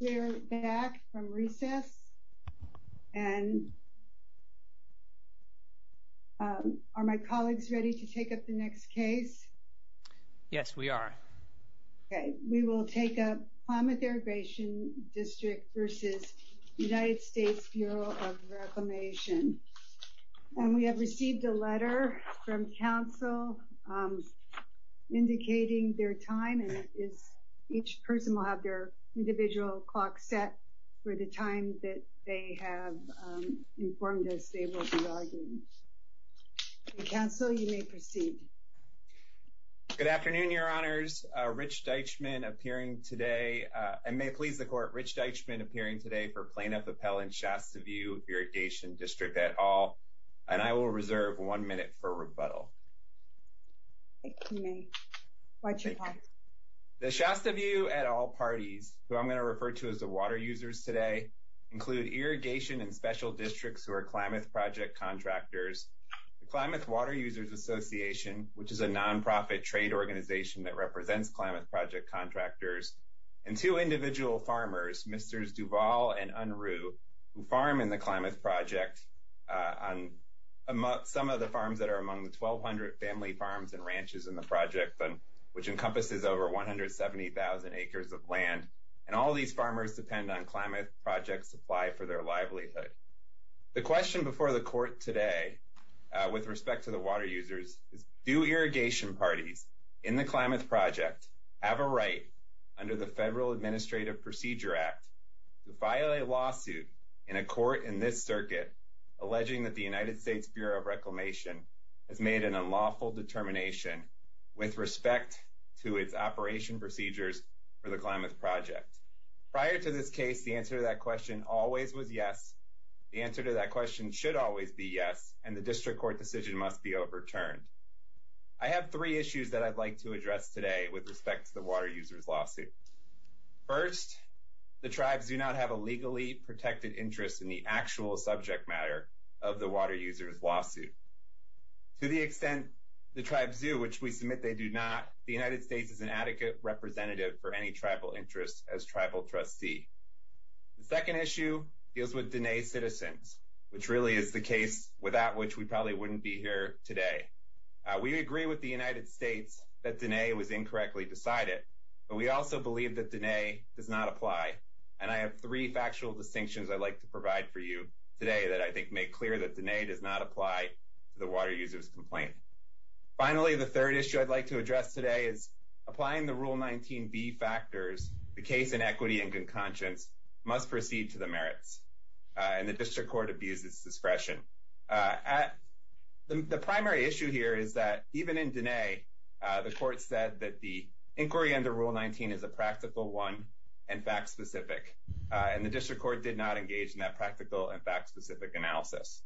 We are back from recess. Are my colleagues ready to take up the next case? Yes, we are. We will take up Klamath Irrigation District v. U.S. Bureau of Reclamation. We have received a letter from Council indicating their time. Each person will have their individual clock set for the time that they have informed us they will be arguing. Council, you may proceed. Good afternoon, Your Honors. Rich Deitchman appearing today for plaintiff appellant Shasta View Irrigation District et al. I will reserve one minute for rebuttal. Thank you. The Shasta View et al. parties, who I'm going to refer to as the water users today, include irrigation and special districts who are Klamath Project contractors, the Klamath Water Users Association, which is a nonprofit trade organization that represents Klamath Project contractors, and two individual farmers, Mr. Duval and Unruh, who farm in the Klamath Project on some of the farms that are among the 1,200 family farms and ranches in the project. And which encompasses over 170,000 acres of land. And all these farmers depend on Klamath Project supply for their livelihood. The question before the court today with respect to the water users is, do irrigation parties in the Klamath Project have a right under the Federal Administrative Procedure Act to file a lawsuit in a court in this circuit alleging that the United States Bureau of Reclamation has made an unlawful determination with respect to its operation procedures for the Klamath Project? Prior to this case, the answer to that question always was yes. The answer to that question should always be yes, and the district court decision must be overturned. I have three issues that I'd like to address today with respect to the water users' lawsuit. First, the tribes do not have a legally protected interest in the actual subject matter of the water users' lawsuit. To the extent the tribes do, which we submit they do not, the United States is an adequate representative for any tribal interest as tribal trustee. The second issue deals with Diné citizens, which really is the case without which we probably wouldn't be here today. We agree with the United States that Diné was incorrectly decided, but we also believe that Diné does not apply. And I have three factual distinctions I'd like to provide for you today that I think make clear that Diné does not apply to the water users' complaint. Finally, the third issue I'd like to address today is applying the Rule 19b factors, the case in equity and good conscience, must proceed to the merits, and the district court abuses discretion. The primary issue here is that even in Diné, the court said that the inquiry under Rule 19 is a practical one and fact-specific, and the district court did not engage in that practical and fact-specific analysis.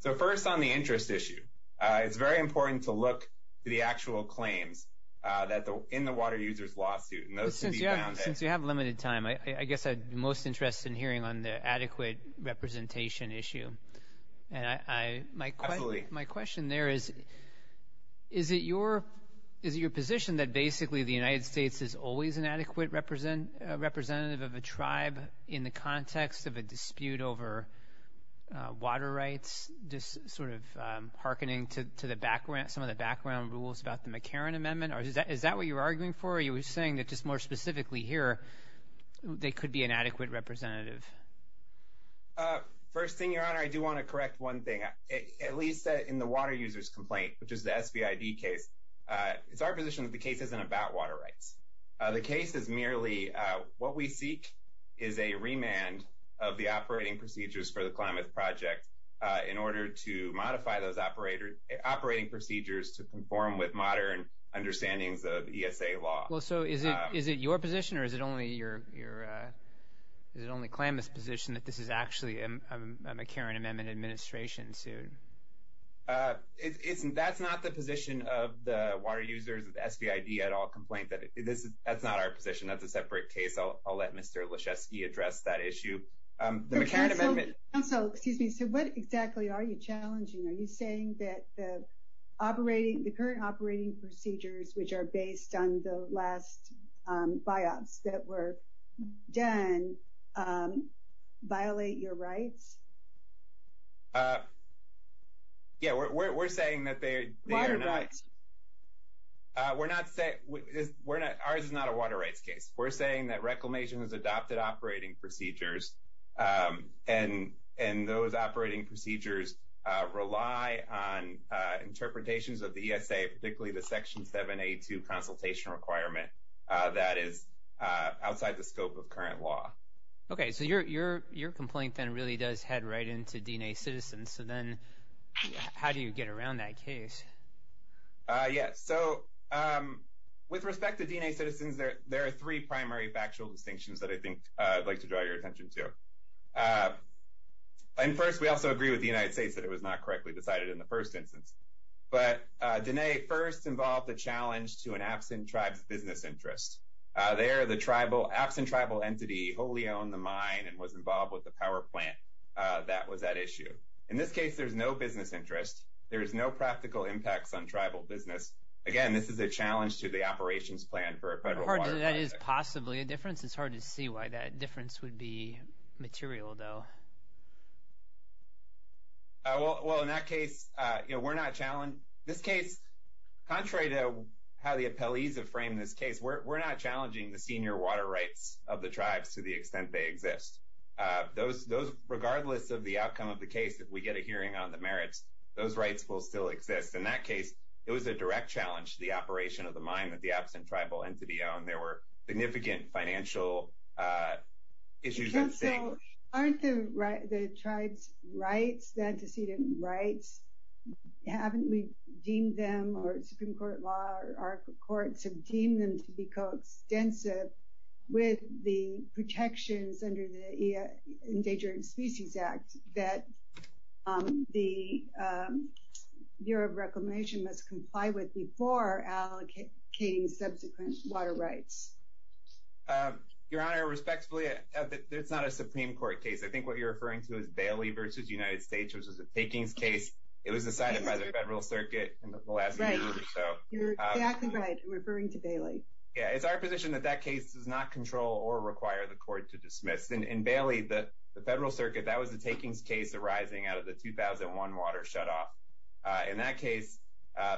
So first on the interest issue, it's very important to look to the actual claims in the water users' lawsuit. Since you have limited time, I guess I'd be most interested in hearing on the adequate representation issue. And my question there is, is it your position that basically the United States is always an adequate representative of a tribe in the context of a dispute over water rights, just sort of hearkening to some of the background rules about the McCarran Amendment? Is that what you're arguing for, or are you saying that just more specifically here, they could be an adequate representative? First thing, Your Honor, I do want to correct one thing, at least in the water users' complaint, which is the SBID case. It's our position that the case isn't about water rights. The case is merely what we seek is a remand of the operating procedures for the Klamath Project in order to modify those operating procedures to conform with modern understandings of ESA law. Well, so is it your position or is it only Klamath's position that this is actually a McCarran Amendment administration suit? That's not the position of the water users, the SBID at all, complaint. That's not our position. That's a separate case. I'll let Mr. Leschewski address that issue. Counsel, excuse me, so what exactly are you challenging? Are you saying that the current operating procedures, which are based on the last BIOPS that were done, violate your rights? Yeah, we're saying that they are not. Water rights. Ours is not a water rights case. We're saying that Reclamation has adopted operating procedures, and those operating procedures rely on interpretations of the ESA, particularly the Section 7A2 consultation requirement that is outside the scope of current law. Okay, so your complaint then really does head right into DNA Citizens. So then how do you get around that case? Yeah, so with respect to DNA Citizens, there are three primary factual distinctions that I think I'd like to draw your attention to. And first, we also agree with the United States that it was not correctly decided in the first instance. But DNA first involved a challenge to an absent tribe's business interest. There, the absent tribal entity wholly owned the mine and was involved with the power plant. That was at issue. In this case, there's no business interest. There's no practical impacts on tribal business. Again, this is a challenge to the operations plan for a federal water project. That is possibly a difference. It's hard to see why that difference would be material, though. Well, in that case, you know, we're not – this case, contrary to how the appellees have framed this case, we're not challenging the senior water rights of the tribes to the extent they exist. Those – regardless of the outcome of the case, if we get a hearing on the merits, those rights will still exist. In that case, it was a direct challenge to the operation of the mine that the absent tribal entity owned. There were significant financial issues at stake. Counsel, aren't the tribes' rights, the antecedent rights, haven't we deemed them, or Supreme Court law, or our courts have deemed them to be coextensive with the protections under the Endangered Species Act that the Bureau of Reclamation must comply with before allocating subsequent water rights? Your Honor, respectfully, it's not a Supreme Court case. I think what you're referring to is Bailey v. United States, which was a takings case. It was decided by the federal circuit in the last year or so. You're exactly right in referring to Bailey. Yeah, it's our position that that case does not control or require the court to dismiss. In Bailey, the federal circuit, that was a takings case arising out of the 2001 water shutoff. In that case,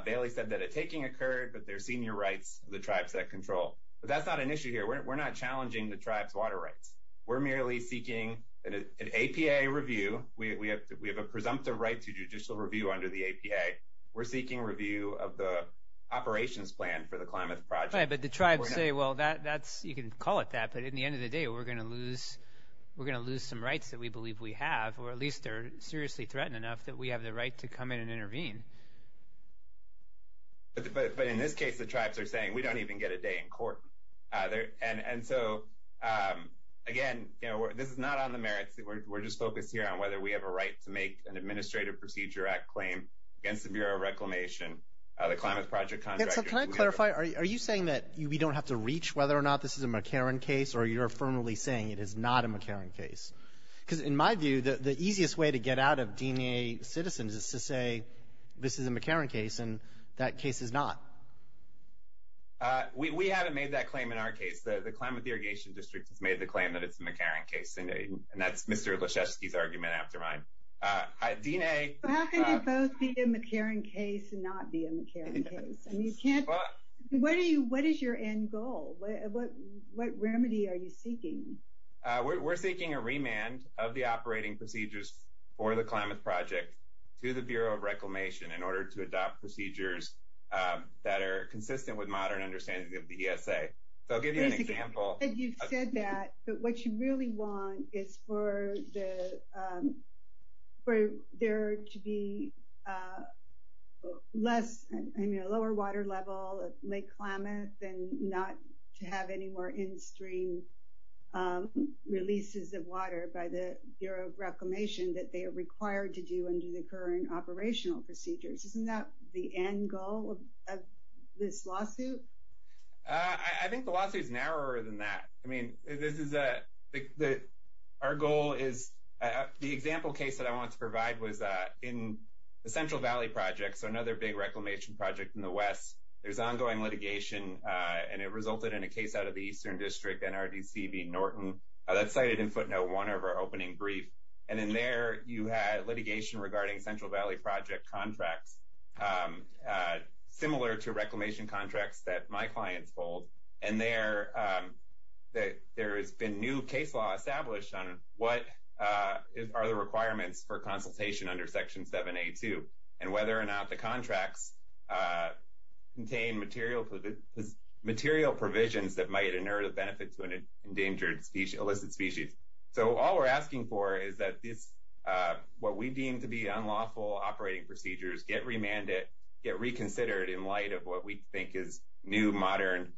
Bailey said that a taking occurred, but there are senior rights of the tribes that control. But that's not an issue here. We're not challenging the tribes' water rights. We're merely seeking an APA review. We have a presumptive right to judicial review under the APA. We're seeking review of the operations plan for the Klamath Project. But the tribes say, well, you can call it that, but at the end of the day, we're going to lose some rights that we believe we have, or at least they're seriously threatened enough that we have the right to come in and intervene. But in this case, the tribes are saying, we don't even get a day in court. And so, again, this is not on the merits. We're just focused here on whether we have a right to make an Administrative Procedure Act claim against the Bureau of Reclamation, the Klamath Project contractors. Can I clarify? Are you saying that we don't have to reach whether or not this is a McCarran case, or you're firmly saying it is not a McCarran case? Because in my view, the easiest way to get out of D&A citizens is to say this is a McCarran case, and that case is not. We haven't made that claim in our case. The Klamath Irrigation District has made the claim that it's a McCarran case, and that's Mr. Leschewski's argument after mine. How can they both be a McCarran case and not be a McCarran case? What is your end goal? What remedy are you seeking? We're seeking a remand of the operating procedures for the Klamath Project to the Bureau of Reclamation in order to adopt procedures that are consistent with modern understanding of the ESA. So I'll give you an example. You said that, but what you really want is for there to be a lower water level at Lake Klamath and not to have any more in-stream releases of water by the Bureau of Reclamation that they are required to do under the current operational procedures. Isn't that the end goal of this lawsuit? I think the lawsuit is narrower than that. I mean, our goal is the example case that I want to provide was in the Central Valley Project, so another big reclamation project in the West. There's ongoing litigation, and it resulted in a case out of the Eastern District, NRDC v. Norton. That's cited in footnote one of our opening brief, and in there you had litigation regarding Central Valley Project contracts similar to reclamation contracts that my clients hold, and there has been new case law established on what are the requirements for consultation under Section 7A.2 and whether or not the contracts contain material provisions that might inert a benefit to an endangered, illicit species. So all we're asking for is that what we deem to be unlawful operating procedures get remanded, get reconsidered in light of what we think is new, modern,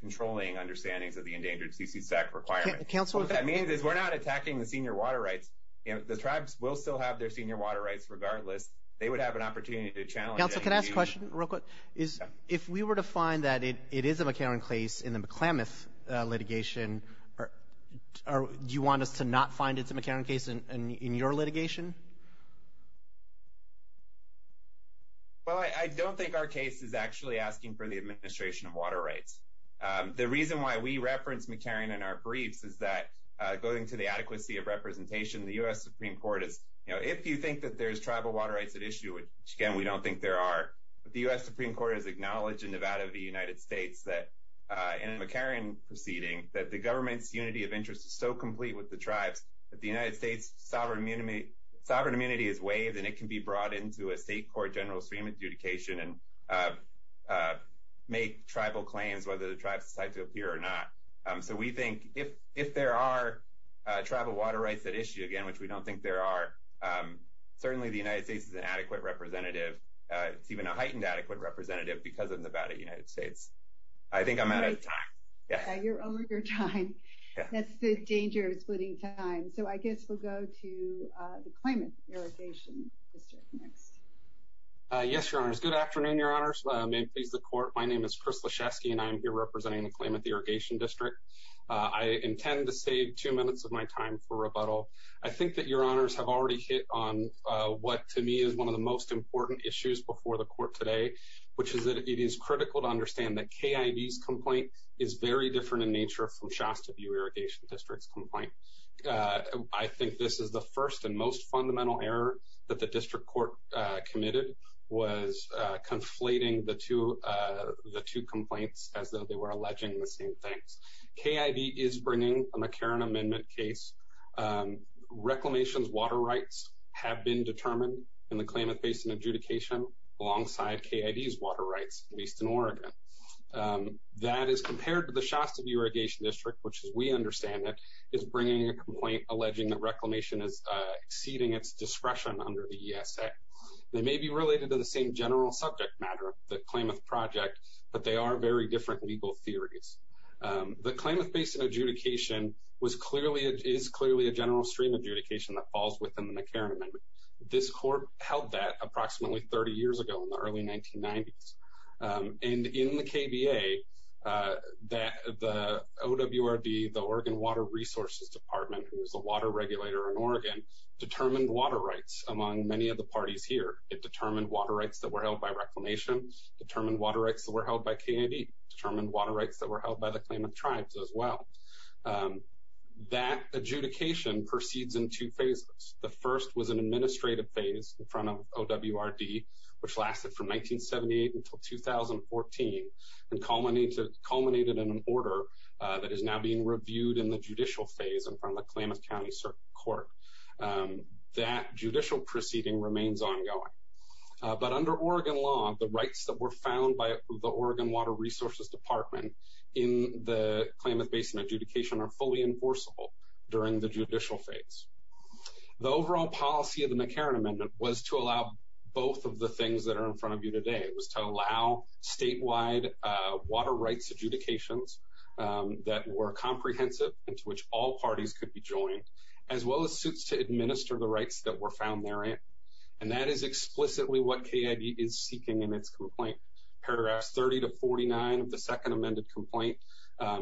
controlling understandings of the Endangered Species Act requirements. What that means is we're not attacking the senior water rights. The tribes will still have their senior water rights regardless. They would have an opportunity to challenge that. One last question real quick. If we were to find that it is a McCarran case in the McLamath litigation, do you want us to not find it's a McCarran case in your litigation? Well, I don't think our case is actually asking for the administration of water rights. The reason why we reference McCarran in our briefs is that going to the adequacy of representation, the U.S. Supreme Court is, you know, if you think that there's tribal water rights at issue, which again we don't think there are, the U.S. Supreme Court has acknowledged in Nevada of the United States that in a McCarran proceeding, that the government's unity of interest is so complete with the tribes that the United States sovereign immunity is waived and it can be brought into a state court general stream adjudication and make tribal claims whether the tribes decide to appear or not. So we think if there are tribal water rights at issue, again, which we don't think there are, certainly the United States is an adequate representative. It's even a heightened adequate representative because of Nevada United States. I think I'm out of time. You're over your time. That's the danger of splitting time. So I guess we'll go to the Claimant Irrigation District next. Yes, Your Honors. Good afternoon, Your Honors. May it please the Court. My name is Chris Leshefsky and I'm here representing the Claimant Irrigation District. I intend to save two minutes of my time for rebuttal. I think that Your Honors have already hit on what to me is one of the most important issues before the Court today, which is that it is critical to understand that KIV's complaint is very different in nature from Shasta View Irrigation District's complaint. I think this is the first and most fundamental error that the District Court committed, was conflating the two complaints as though they were alleging the same things. KIV is bringing a McCarran Amendment case. Reclamation's water rights have been determined, and the claimant faced an adjudication alongside KIV's water rights, at least in Oregon. That is compared to the Shasta View Irrigation District, which, as we understand it, is bringing a complaint alleging that Reclamation is exceeding its discretion under the ESA. They may be related to the same general subject matter, the Klamath Project, but they are very different legal theories. The Klamath Basin adjudication is clearly a general stream adjudication that falls within the McCarran Amendment. This Court held that approximately 30 years ago in the early 1990s. And in the KBA, the OWRB, the Oregon Water Resources Department, who is the water regulator in Oregon, determined water rights among many of the parties here. It determined water rights that were held by Reclamation, determined water rights that were held by KID, determined water rights that were held by the Klamath Tribes as well. That adjudication proceeds in two phases. The first was an administrative phase in front of OWRB, which lasted from 1978 until 2014, and culminated in an order that is now being reviewed in the judicial phase in front of the Klamath County Court. That judicial proceeding remains ongoing. But under Oregon law, the rights that were found by the Oregon Water Resources Department in the Klamath Basin adjudication are fully enforceable during the judicial phase. The overall policy of the McCarran Amendment was to allow both of the things that are in front of you today. It was to allow statewide water rights adjudications that were comprehensive and to which all parties could be joined, as well as suits to administer the rights that were found therein. And that is explicitly what KID is seeking in its complaint. Paragraphs 30 to 49 of the second amended complaint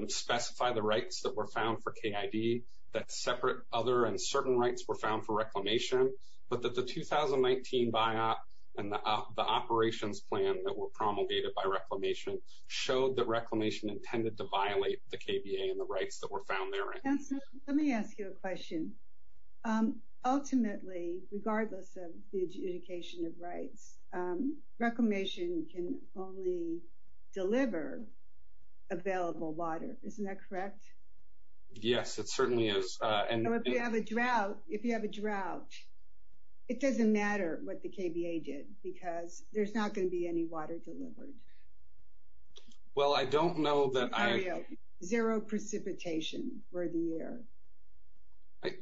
specify the rights that were found for KID, that separate other and certain rights were found for Reclamation, but that the 2019 biop and the operations plan that were promulgated by Reclamation showed that Reclamation intended to violate the KBA and the rights that were found therein. Let me ask you a question. Ultimately, regardless of the adjudication of rights, Reclamation can only deliver available water. Isn't that correct? Yes, it certainly is. If you have a drought, it doesn't matter what the KBA did because there's not going to be any water delivered. Well, I don't know that I... Zero precipitation for the year.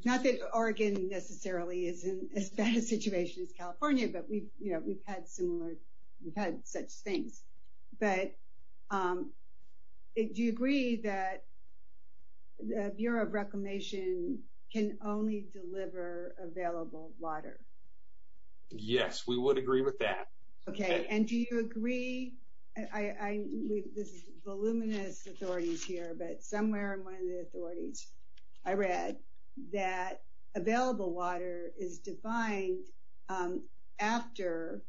Not that Oregon necessarily is in as bad a situation as California, but we've had similar, we've had such things. But do you agree that the Bureau of Reclamation can only deliver available water? Yes, we would agree with that. Okay, and do you agree... This is voluminous authorities here, but somewhere in one of the authorities I read that available water is defined after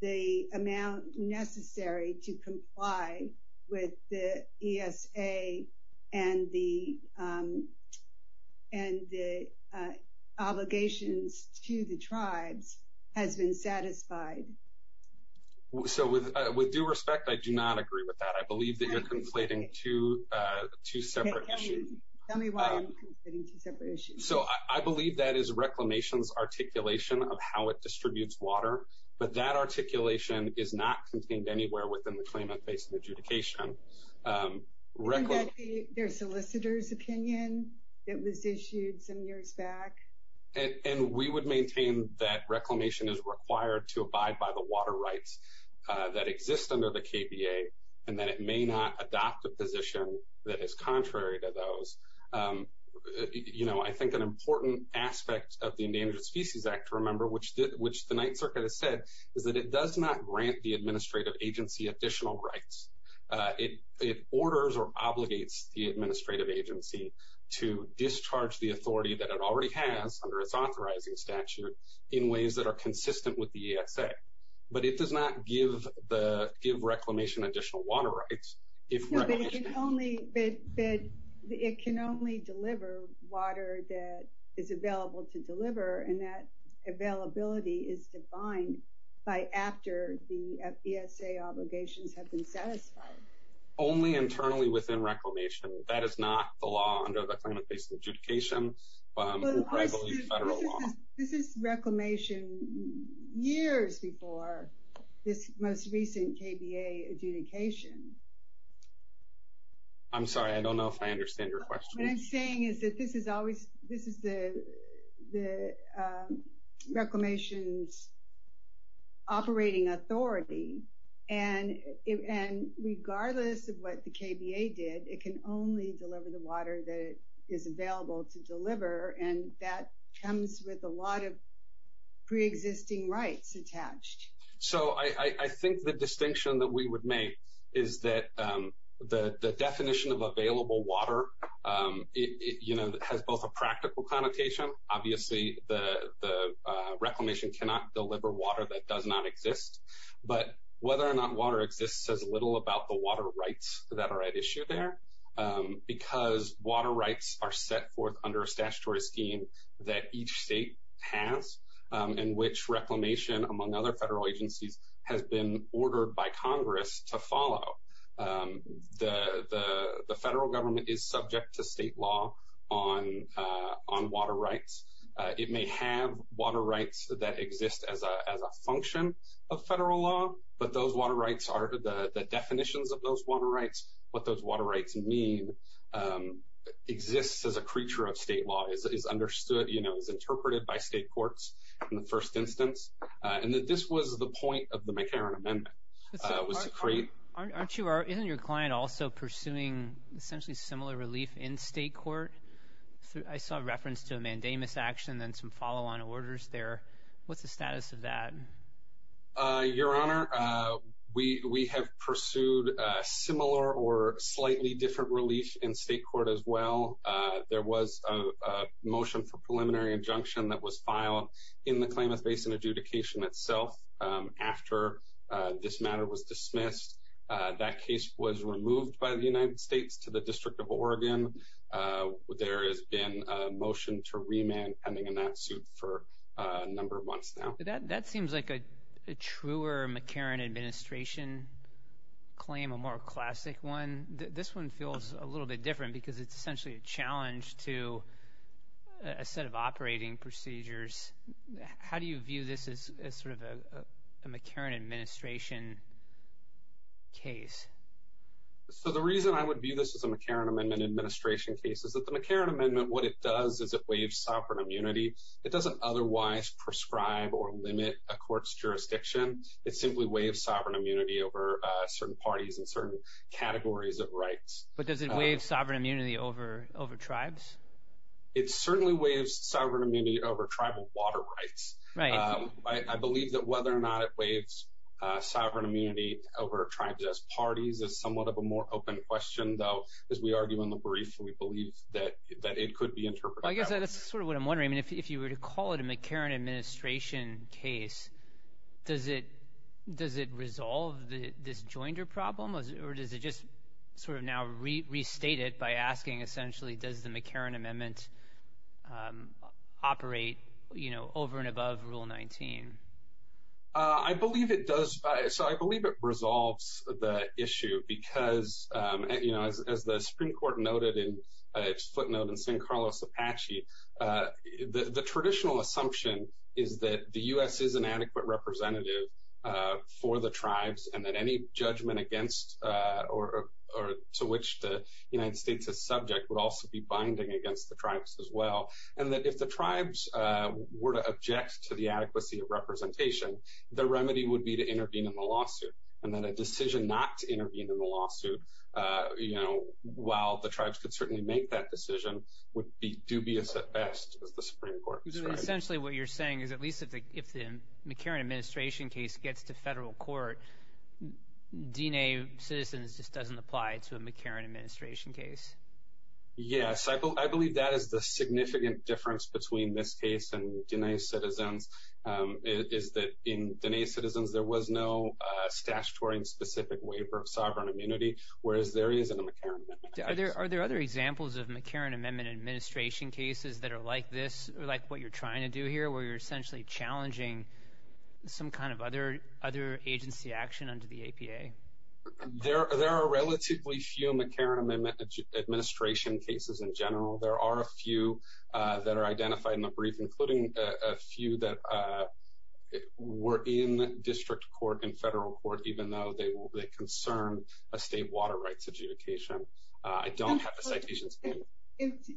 the amount necessary to comply with the ESA and the obligations to the tribes has been satisfied. So with due respect, I do not agree with that. I believe that you're conflating two separate issues. Tell me why you're conflating two separate issues. So I believe that is Reclamation's articulation of how it distributes water, but that articulation is not contained anywhere within the claimant-based adjudication. Isn't that their solicitor's opinion? It was issued some years back. And we would maintain that Reclamation is required to abide by the water rights that exist under the KBA and that it may not adopt a position that is contrary to those. You know, I think an important aspect of the Endangered Species Act, remember, which the Ninth Circuit has said, is that it does not grant the administrative agency additional rights. It orders or obligates the administrative agency to discharge the authority that it already has under its authorizing statute in ways that are consistent with the ESA. But it does not give Reclamation additional water rights. No, but it can only deliver water that is available to deliver, and that availability is defined by after the ESA obligations have been satisfied. Only internally within Reclamation. That is not the law under the claimant-based adjudication. This is Reclamation years before this most recent KBA adjudication. I'm sorry, I don't know if I understand your question. What I'm saying is that this is the Reclamation's operating authority, and regardless of what the KBA did, it can only deliver the water that is available to deliver, and that comes with a lot of preexisting rights attached. So I think the distinction that we would make is that the definition of available water, you know, has both a practical connotation. Obviously the Reclamation cannot deliver water that does not exist, but whether or not water exists says little about the water rights that are at issue there, because water rights are set forth under a statutory scheme that each state has, and which Reclamation, among other federal agencies, has been ordered by Congress to follow. The federal government is subject to state law on water rights. It may have water rights that exist as a function of federal law, but those water rights are the definitions of those water rights. What those water rights mean exists as a creature of state law. It's understood, you know, it's interpreted by state courts in the first instance, and that this was the point of the McCarran Amendment. Aren't you or isn't your client also pursuing essentially similar relief in state court? I saw reference to a mandamus action and some follow-on orders there. What's the status of that? Your Honor, we have pursued similar or slightly different relief in state court as well. There was a motion for preliminary injunction that was filed in the Klamath Basin adjudication itself after this matter was dismissed. That case was removed by the United States to the District of Oregon. There has been a motion to remand pending in that suit for a number of months now. That seems like a truer McCarran administration claim, a more classic one. This one feels a little bit different because it's essentially a challenge to a set of operating procedures. How do you view this as sort of a McCarran administration case? The reason I would view this as a McCarran Amendment administration case is that the McCarran Amendment, what it does is it waives sovereign immunity. It doesn't otherwise prescribe or limit a court's jurisdiction. It simply waives sovereign immunity over certain parties and certain categories of rights. But does it waive sovereign immunity over tribes? It certainly waives sovereign immunity over tribal water rights. I believe that whether or not it waives sovereign immunity over tribes as parties is somewhat of a more open question, though, as we argue in the brief. We believe that it could be interpreted that way. I guess that's sort of what I'm wondering. If you were to call it a McCarran administration case, does it resolve this joinder problem or does it just sort of now restate it by asking, essentially, does the McCarran Amendment operate over and above Rule 19? I believe it does. I believe it resolves the issue because, as the Supreme Court noted in its footnote in St. Carlos Apache, the traditional assumption is that the U.S. is an adequate representative for the tribes and that any judgment against or to which the United States is subject would also be binding against the tribes as well, and that if the tribes were to object to the adequacy of representation, the remedy would be to intervene in the lawsuit. And then a decision not to intervene in the lawsuit, while the tribes could certainly make that decision, would be dubious at best, as the Supreme Court described. So essentially what you're saying is at least if the McCarran administration case gets to federal court, D-Day citizens just doesn't apply to a McCarran administration case. Yes. I believe that is the significant difference between this case and D-Day citizens, is that in D-Day citizens there was no statutory and specific waiver of sovereign immunity, whereas there is in the McCarran Amendment. Are there other examples of McCarran Amendment administration cases that are like this, or like what you're trying to do here, where you're essentially challenging some kind of other agency action under the APA? There are relatively few McCarran Amendment administration cases in general. There are a few that are identified in the brief, including a few that were in district court and federal court, even though they concern a state water rights adjudication. I don't have the citations.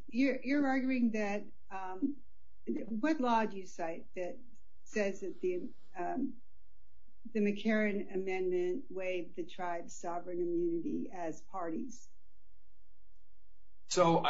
You're arguing that, what law do you cite that says that the McCarran Amendment waived the tribe's sovereign immunity as parties? So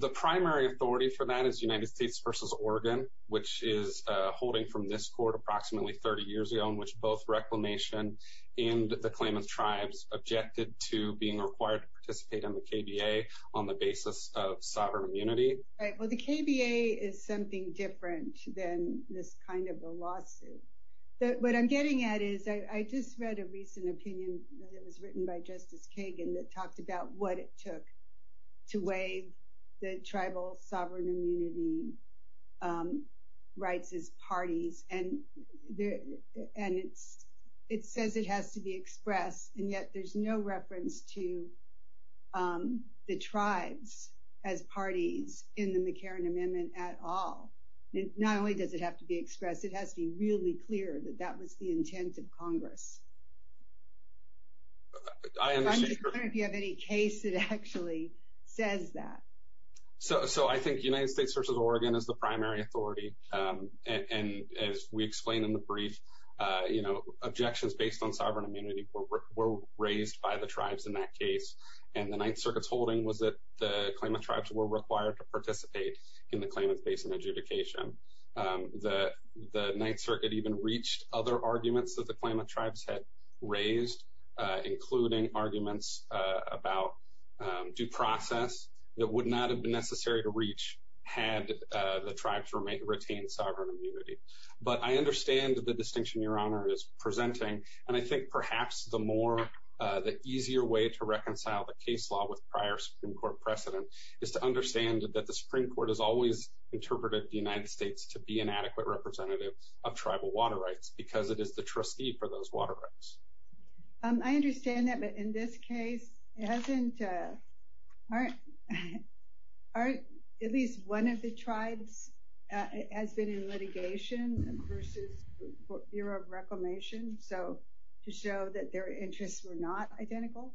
the primary authority for that is United States v. Oregon, which is holding from this court approximately 30 years ago in which both reclamation and the claim of tribes objected to being required to participate on the KBA on the basis of sovereign immunity. Well, the KBA is something different than this kind of a lawsuit. What I'm getting at is I just read a recent opinion that was written by Justice Kagan that talked about what it took to waive the tribal sovereign immunity rights as parties, and it says it has to be expressed, and yet there's no reference to the tribes as parties in the McCarran Amendment at all. Not only does it have to be expressed, it has to be really clear that that was the intent of Congress. I'm just wondering if you have any case that actually says that. So I think United States v. Oregon is the primary authority, and as we explained in the brief, objections based on sovereign immunity were raised by the tribes in that case, and the Ninth Circuit's holding was that the claimant tribes were required to participate in the claimant's base and adjudication. The Ninth Circuit even reached other arguments that the claimant tribes had raised, including arguments about due process that would not have been necessary to reach had the tribes retained sovereign immunity. But I understand the distinction Your Honor is presenting, and I think perhaps the easier way to reconcile the case law with prior Supreme Court precedent is to understand that the Supreme Court has always interpreted the United States to be an adequate representative of tribal water rights because it is the trustee for those water rights. I understand that, but in this case, hasn't at least one of the tribes been in litigation v. Bureau of Reclamation to show that their interests were not identical?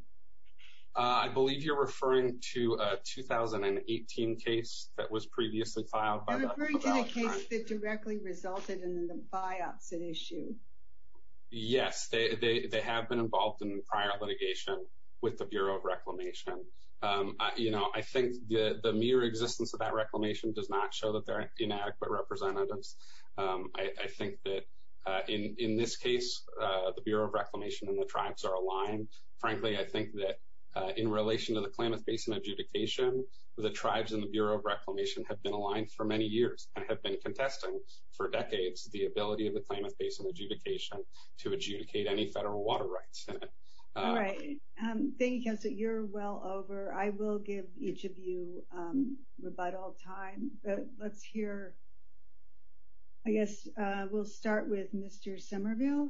I believe you're referring to a 2018 case that was previously filed by that tribe. What about the case that directly resulted in the biopsy issue? Yes, they have been involved in prior litigation with the Bureau of Reclamation. I think the mere existence of that reclamation does not show that they're inadequate representatives. I think that in this case, the Bureau of Reclamation and the tribes are aligned. Frankly, I think that in relation to the claimant's base and adjudication, the tribes and the Bureau of Reclamation have been aligned for many years and have been contesting for decades the ability of the claimant's base and adjudication to adjudicate any federal water rights. All right. Thank you, Counselor. You're well over. I will give each of you about all time, but let's hear, I guess we'll start with Mr. Somerville.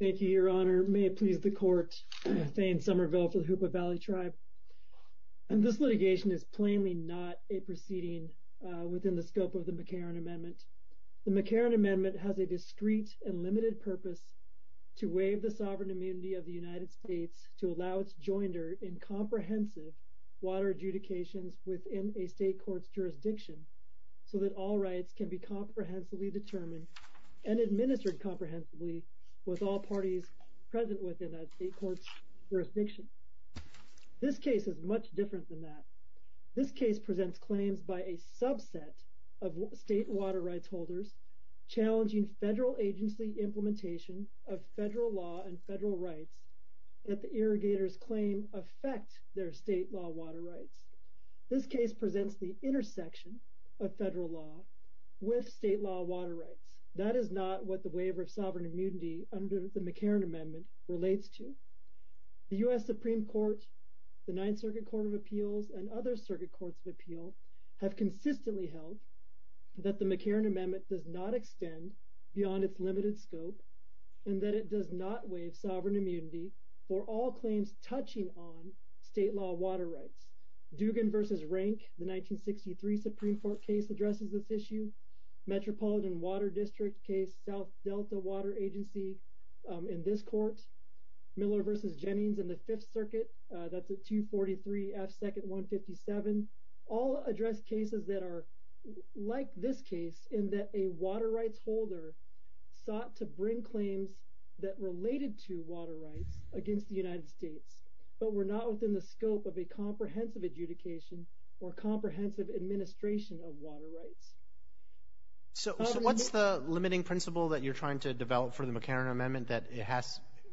Thank you, Your Honor. May it please the Court. Thane Somerville for the Hoopa Valley Tribe. This litigation is plainly not a proceeding within the scope of the McCarran Amendment. The McCarran Amendment has a discreet and limited purpose to waive the sovereign immunity of the United States to allow its joinder in comprehensive water adjudications within a state court's jurisdiction so that all rights can be comprehensively determined and administered comprehensively with all parties present within a state court's jurisdiction. This case is much different than that. This case presents claims by a subset of state water rights holders challenging federal agency implementation of federal law and federal rights that the irrigators claim affect their state law water rights. This case presents the intersection of federal law with state law water rights. That is not what the waiver of sovereign immunity under the McCarran Amendment relates to. The U.S. Supreme Court, the Ninth Circuit Court of Appeals, and other circuit courts of appeal have consistently held that the McCarran Amendment does not extend beyond its limited scope and that it does not waive sovereign immunity for all claims touching on state law water rights. Dugan v. Rank, the 1963 Supreme Court case addresses this issue. Metropolitan Water District case, South Delta Water Agency in this court. Miller v. Jennings in the Fifth Circuit, that's at 243 F. 2nd 157. All address cases that are like this case in that a water rights holder sought to bring claims that related to water rights against the United States but were not within the scope of a comprehensive adjudication or comprehensive administration of water rights. So what's the limiting principle that you're trying to develop for the McCarran Amendment that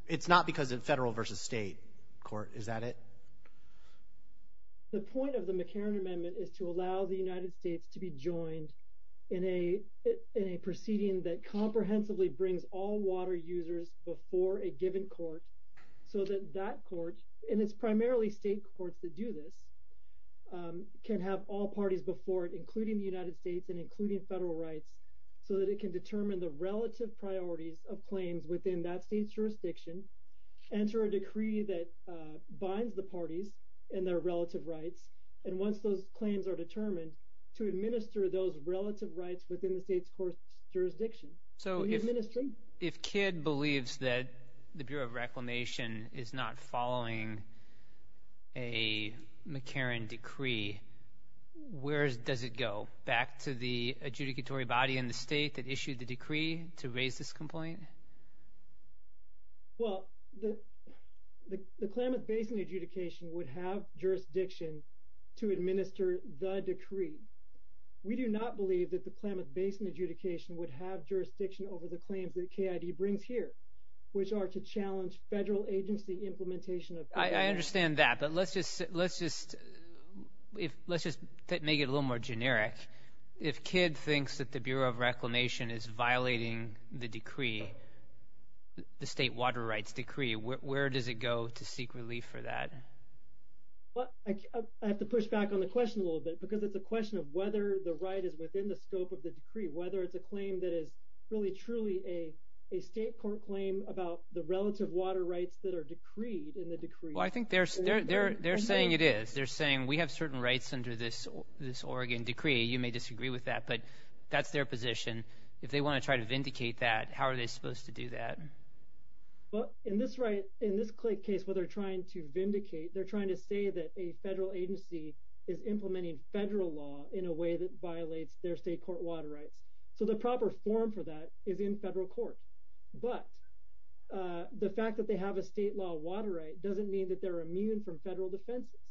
it's not because of federal versus state court, is that it? The point of the McCarran Amendment is to allow the United States to be joined in a proceeding that comprehensively brings all water users before a given court so that that court, and it's primarily state courts that do this, can have all parties before it, including the United States and including federal rights, so that it can determine the relative priorities of claims within that state's jurisdiction, enter a decree that binds the parties in their relative rights, and once those claims are determined, to administer those relative rights within the state's court's jurisdiction. So if Kidd believes that the Bureau of Reclamation is not following a McCarran decree, where does it go? Back to the adjudicatory body in the state that issued the decree to raise this complaint? Well, the Klamath Basin adjudication would have jurisdiction to administer the decree. We do not believe that the Klamath Basin adjudication would have jurisdiction over the claims that KID brings here, which are to challenge federal agency implementation of KID. I understand that, but let's just make it a little more generic. If Kidd thinks that the Bureau of Reclamation is violating the decree, the state water rights decree, where does it go to seek relief for that? I have to push back on the question a little bit, because it's a question of whether the right is within the scope of the decree, whether it's a claim that is really truly a state court claim about the relative water rights that are decreed in the decree. Well, I think they're saying it is. They're saying we have certain rights under this Oregon decree. You may disagree with that, but that's their position. If they want to try to vindicate that, how are they supposed to do that? In this case where they're trying to vindicate, they're trying to say that a federal agency is implementing federal law in a way that violates their state court water rights. So the proper form for that is in federal court. But the fact that they have a state law water right doesn't mean that they're immune from federal defenses.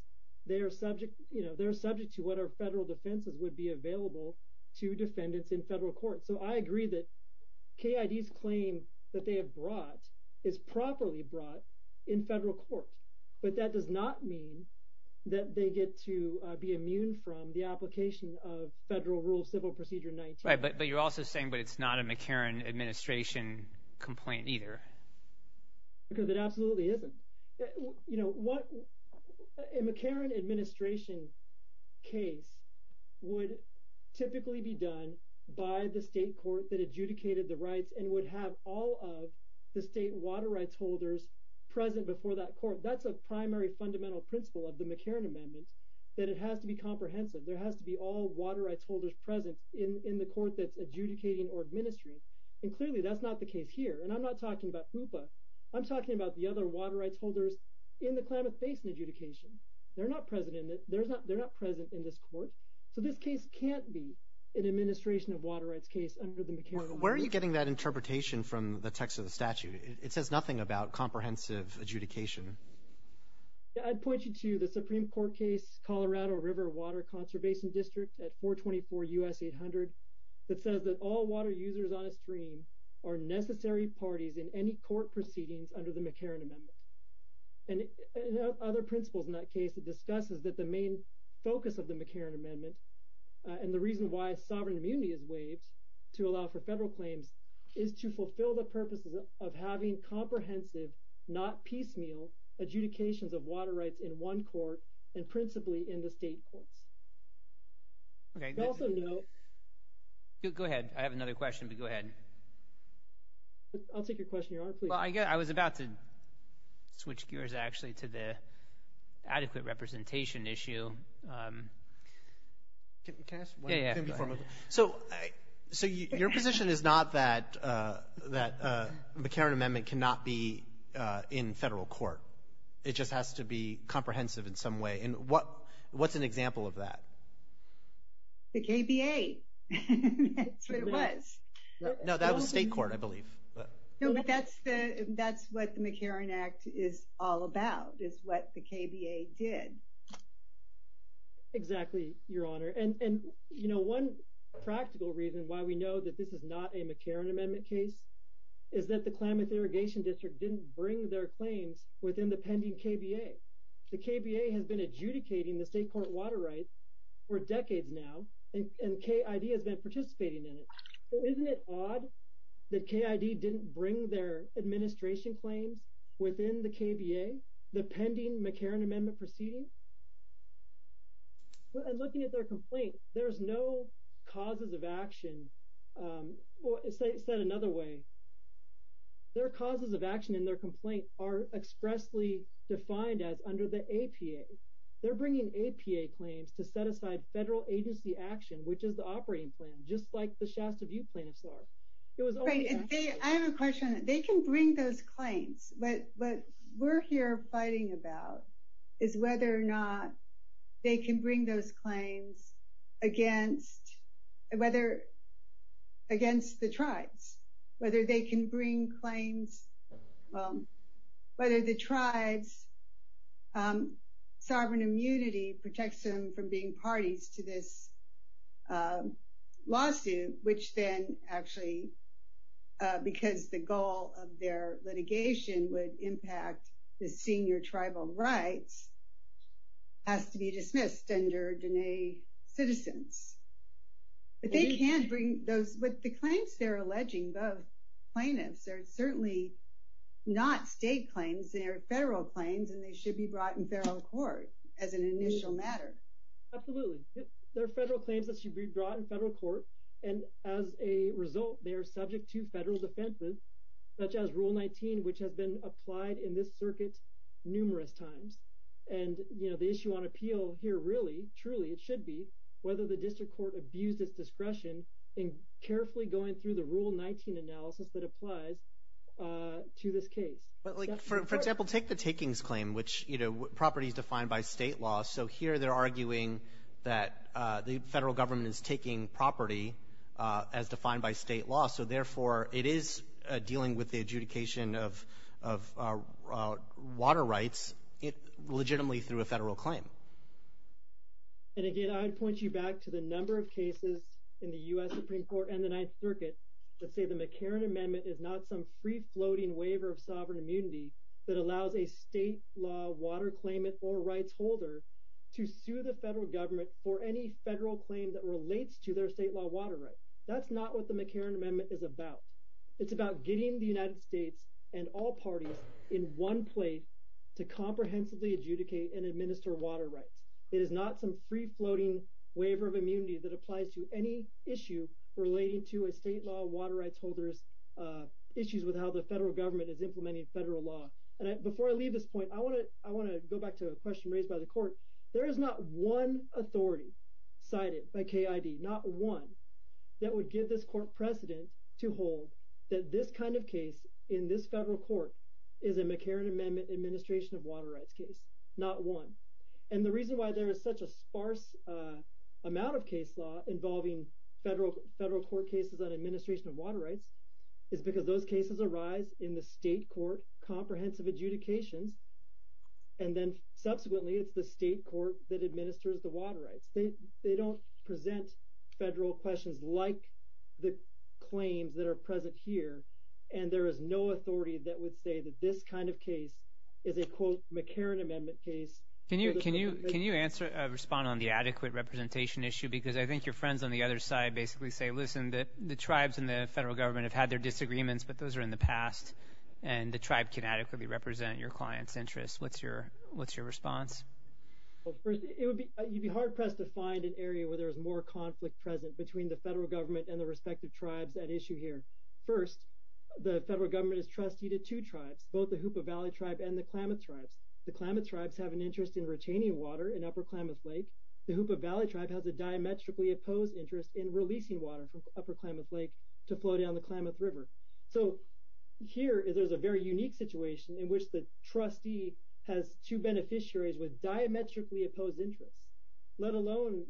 They are subject to what our federal defenses would be available to defendants in federal court. So I agree that KID's claim that they have brought is properly brought in federal court. But that does not mean that they get to be immune from the application of Federal Rule of Civil Procedure 19. Right, but you're also saying that it's not a McCarran administration complaint either. Because it absolutely isn't. A McCarran administration case would typically be done by the state court that adjudicated the rights and would have all of the state water rights holders present before that court. That's a primary fundamental principle of the McCarran Amendment, that it has to be comprehensive. There has to be all water rights holders present in the court that's adjudicating or administering. And clearly that's not the case here. And I'm not talking about HOOPA. I'm talking about the other water rights holders in the Klamath Basin adjudication. They're not present in this court. So this case can't be an administration of water rights case under the McCarran Amendment. Where are you getting that interpretation from the text of the statute? It says nothing about comprehensive adjudication. I'd point you to the Supreme Court case Colorado River Water Conservation District at 424 U.S. 800 that says that all water users on a stream are necessary parties in any court proceedings under the McCarran Amendment. And other principles in that case, it discusses that the main focus of the McCarran Amendment and the reason why sovereign immunity is waived to allow for federal claims is to fulfill the purposes of having comprehensive, not piecemeal, adjudications of water rights in one court and principally in the state courts. Okay. Go ahead. I have another question, but go ahead. I'll take your question. Well, I was about to switch gears actually to the adequate representation issue. Can I ask one thing before moving? So your position is not that the McCarran Amendment cannot be in federal court. It just has to be comprehensive in some way. And what's an example of that? That's what it was. No, that was state court, I believe. No, but that's what the McCarran Act is all about is what the KBA did. Exactly, Your Honor. And one practical reason why we know that this is not a McCarran Amendment case is that the Klamath Irrigation District didn't bring their claims within the pending KBA. The KBA has been adjudicating the state court water rights for decades now, and KID has been participating in it. So isn't it odd that KID didn't bring their administration claims within the KBA, the pending McCarran Amendment proceeding? And looking at their complaint, there's no causes of action. Said another way, their causes of action in their complaint are expressly defined as under the APA. They're bringing APA claims to set aside federal agency action, which is the operating plan, just like the Shasta Butte plaintiffs are. I have a question. They can bring those claims, but what we're here fighting about is whether or not they can bring those claims against the tribes, whether they can bring claims, whether the tribes' sovereign immunity protects them from being parties to this lawsuit, which then actually, because the goal of their litigation would impact the senior tribal rights, has to be dismissed under Denae Citizens. But the claims they're alleging, both plaintiffs, are certainly not state claims. They're federal claims, and they should be brought in federal court as an initial matter. Absolutely. They're federal claims that should be brought in federal court, and as a result, they are subject to federal defenses, such as Rule 19, which has been applied in this circuit numerous times. And the issue on appeal here really, truly, it should be, whether the district court abused its discretion in carefully going through the Rule 19 analysis that applies to this case. For example, take the takings claim, which, you know, property is defined by state law. So here they're arguing that the federal government is taking property as defined by state law. So, therefore, it is dealing with the adjudication of water rights legitimately through a federal claim. And, again, I'd point you back to the number of cases in the U.S. Supreme Court and the Ninth Circuit that say the McCarran Amendment is not some free-floating waiver of sovereign immunity that allows a state law water claimant or rights holder to sue the federal government for any federal claim that relates to their state law water rights. That's not what the McCarran Amendment is about. It's about getting the United States and all parties in one place to comprehensively adjudicate and administer water rights. It is not some free-floating waiver of immunity that applies to any issue relating to a state law water rights holder's issues with how the federal government is implementing federal law. And before I leave this point, I want to go back to a question raised by the court. There is not one authority cited by KID, not one, that would give this court precedent to hold that this kind of case in this federal court is a McCarran Amendment administration of water rights case, not one. And the reason why there is such a sparse amount of case law involving federal court cases on administration of water rights is because those cases arise in the state court comprehensive adjudications, and then subsequently it's the state court that administers the water rights. They don't present federal questions like the claims that are present here, and there is no authority that would say that this kind of case is a, quote, McCarran Amendment case. Can you respond on the adequate representation issue? Because I think your friends on the other side basically say, listen, the tribes and the federal government have had their disagreements, but those are in the past, and the tribe can adequately represent your client's interests. What's your response? You'd be hard-pressed to find an area where there is more conflict present between the federal government and the respective tribes at issue here. First, the federal government is trustee to two tribes, both the Hoopa Valley Tribe and the Klamath Tribes. The Klamath Tribes have an interest in retaining water in Upper Klamath Lake. The Hoopa Valley Tribe has a diametrically opposed interest in releasing water from Upper Klamath Lake to flow down the Klamath River. So here there's a very unique situation in which the trustee has two beneficiaries with diametrically opposed interests, let alone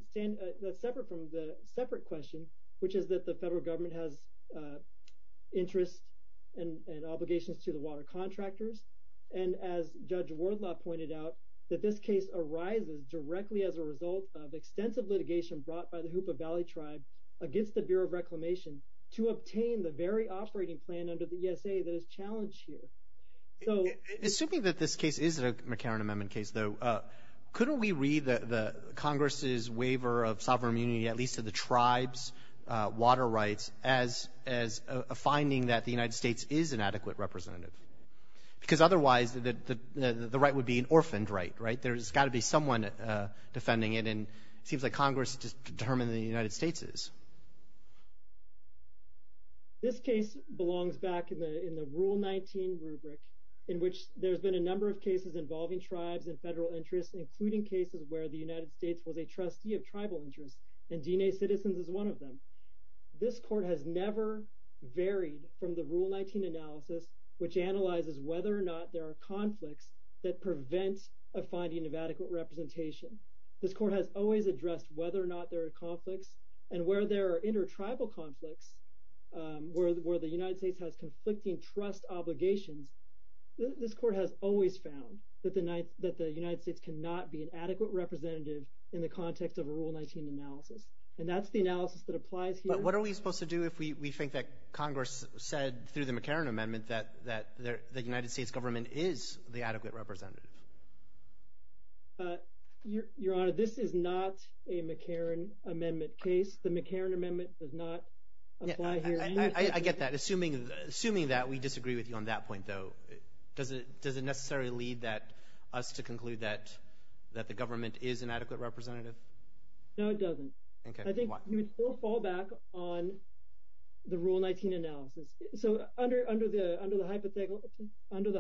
separate from the separate question, which is that the federal government has interests and obligations to the water contractors. And as Judge Wardlaw pointed out, that this case arises directly as a result of extensive litigation brought by the Hoopa Valley Tribe against the Bureau of Reclamation to obtain the very operating plan under the ESA that is challenged here. Assuming that this case is a McCarran Amendment case, though, couldn't we read the Congress's waiver of sovereign immunity, at least to the tribe's water rights, as a finding that the United States is an adequate representative? Because otherwise the right would be an orphaned right, right? There's got to be someone defending it, and it seems like Congress has just determined that the United States is. This case belongs back in the Rule 19 rubric, in which there's been a number of cases involving tribes and federal interests, including cases where the United States was a trustee of tribal interests, and DNA Citizens is one of them. This court has never varied from the Rule 19 analysis, which analyzes whether or not there are conflicts that prevent a finding of adequate representation. This court has always addressed whether or not there are conflicts, and where there are inter-tribal conflicts, where the United States has conflicting trust obligations, this court has always found that the United States cannot be an adequate representative in the context of a Rule 19 analysis, and that's the analysis that applies here. But what are we supposed to do if we think that Congress said through the McCarran Amendment that the United States government is the adequate representative? Your Honor, this is not a McCarran Amendment case. The McCarran Amendment does not apply here. I get that. Assuming that, we disagree with you on that point, though. Does it necessarily lead us to conclude that the government is an adequate representative? No, it doesn't. I think you would still fall back on the Rule 19 analysis. So under the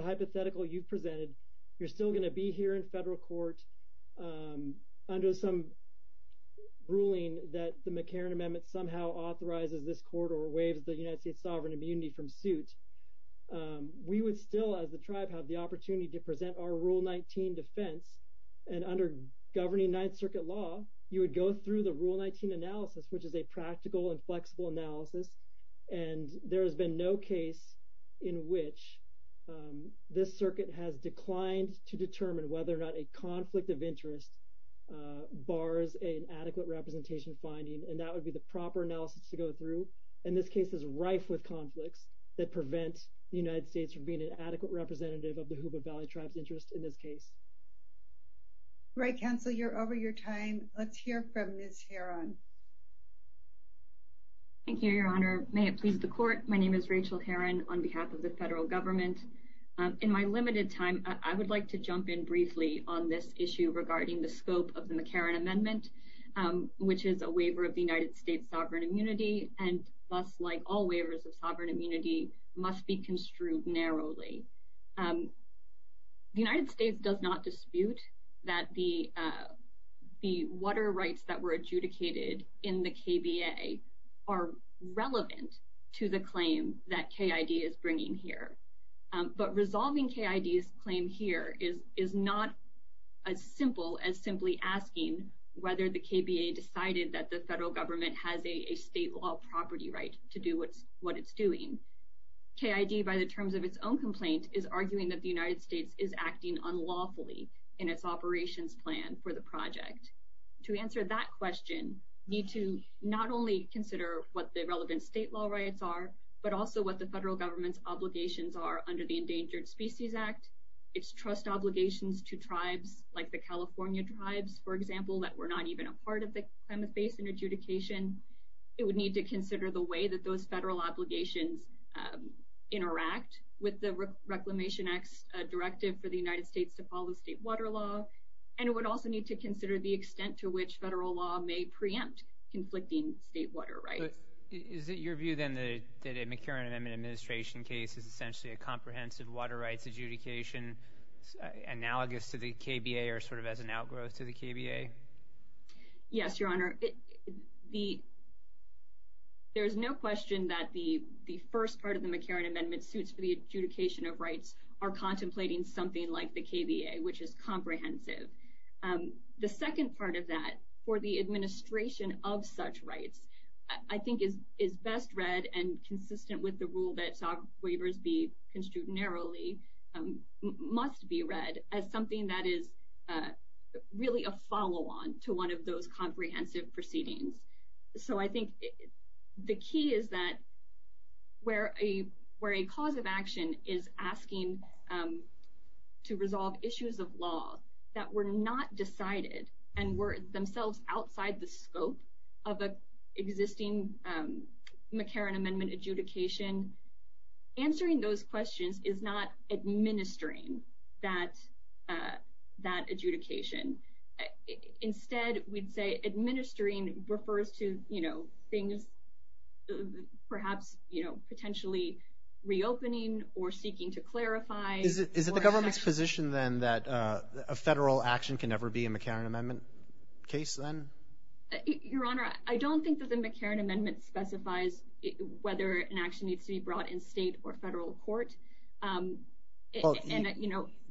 hypothetical you've presented, you're still going to be here in federal court under some ruling that the United States is the sovereign immunity from suit. We would still, as the tribe, have the opportunity to present our Rule 19 defense, and under governing Ninth Circuit law, you would go through the Rule 19 analysis, which is a practical and flexible analysis, and there has been no case in which this circuit has declined to determine whether or not a conflict of interest bars an adequate representation finding, and that would be the proper analysis to go through. And this case is rife with conflicts that prevent the United States from being an adequate representative of the Huba Valley tribe's interest in this case. Right, Counselor, you're over your time. Let's hear from Ms. Heron. Thank you, Your Honor. May it please the court, my name is Rachel Heron, on behalf of the federal government. In my limited time, I would like to jump in briefly on this issue regarding the scope of the McCarran Amendment, which is a waiver of the United States' sovereign immunity, and thus, like all waivers of sovereign immunity, must be construed narrowly. The United States does not dispute that the water rights that were adjudicated in the KBA are relevant to the claim that KID is bringing here. But resolving KID's claim here is not as simple as simply asking whether the KBA decided that the federal government has a state law property right to do what it's doing. KID, by the terms of its own complaint, is arguing that the United States is acting unlawfully in its operations plan for the project. To answer that question, you need to not only consider what the relevant state law rights are, but also what the federal government's obligations are under the Endangered Species Act. It's trust obligations to tribes like the California tribes, for example, that were not even a part of the claimant base and adjudication. It would need to consider the way that those federal obligations interact with the Reclamation Act's directive for the United States to follow state water law, and it would also need to consider the extent to which federal law may preempt conflicting state water rights. So is it your view, then, that a McCarran Amendment administration case is essentially a comprehensive water rights adjudication analogous to the KBA or sort of as an outgrowth to the KBA? Yes, Your Honor. There is no question that the first part of the McCarran Amendment suits for the adjudication of rights are contemplating something like the KBA, which is comprehensive. The second part of that, for the administration of such rights, I think is best read and consistent with the rule that SOG waivers be construed narrowly, must be read as something that is really a follow-on to one of those comprehensive proceedings. So I think the key is that where a cause of action is asking to resolve issues of law that were not decided and were themselves outside the scope of existing McCarran Amendment adjudication, answering those questions is not administering that adjudication. Instead, we'd say administering refers to things perhaps potentially reopening or seeking to clarify. Is it the government's position, then, that a federal action can never be a McCarran Amendment case, then? Your Honor, I don't think that the McCarran Amendment specifies whether an action needs to be brought in state or federal court.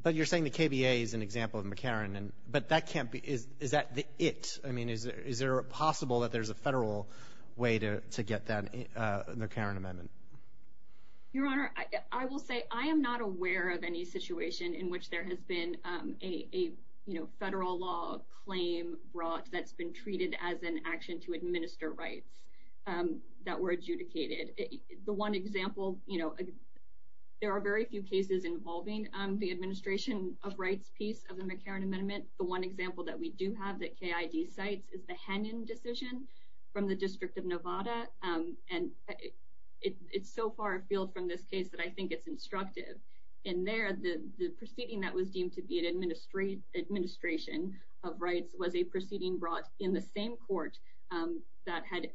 But you're saying the KBA is an example of McCarran. But is that it? I mean, is there possible that there's a federal way to get that McCarran Amendment? Your Honor, I will say I am not aware of any situation in which there has been a federal law claim brought that's been treated as an action to administer rights that were adjudicated. The one example, you know, there are very few cases involving the administration of rights piece of the McCarran Amendment. The one example that we do have that KID cites is the Hennon decision from the District of Nevada. And it's so far afield from this case that I think it's instructive. In there, the proceeding that was deemed to be an administration of rights was a proceeding brought in the same court that had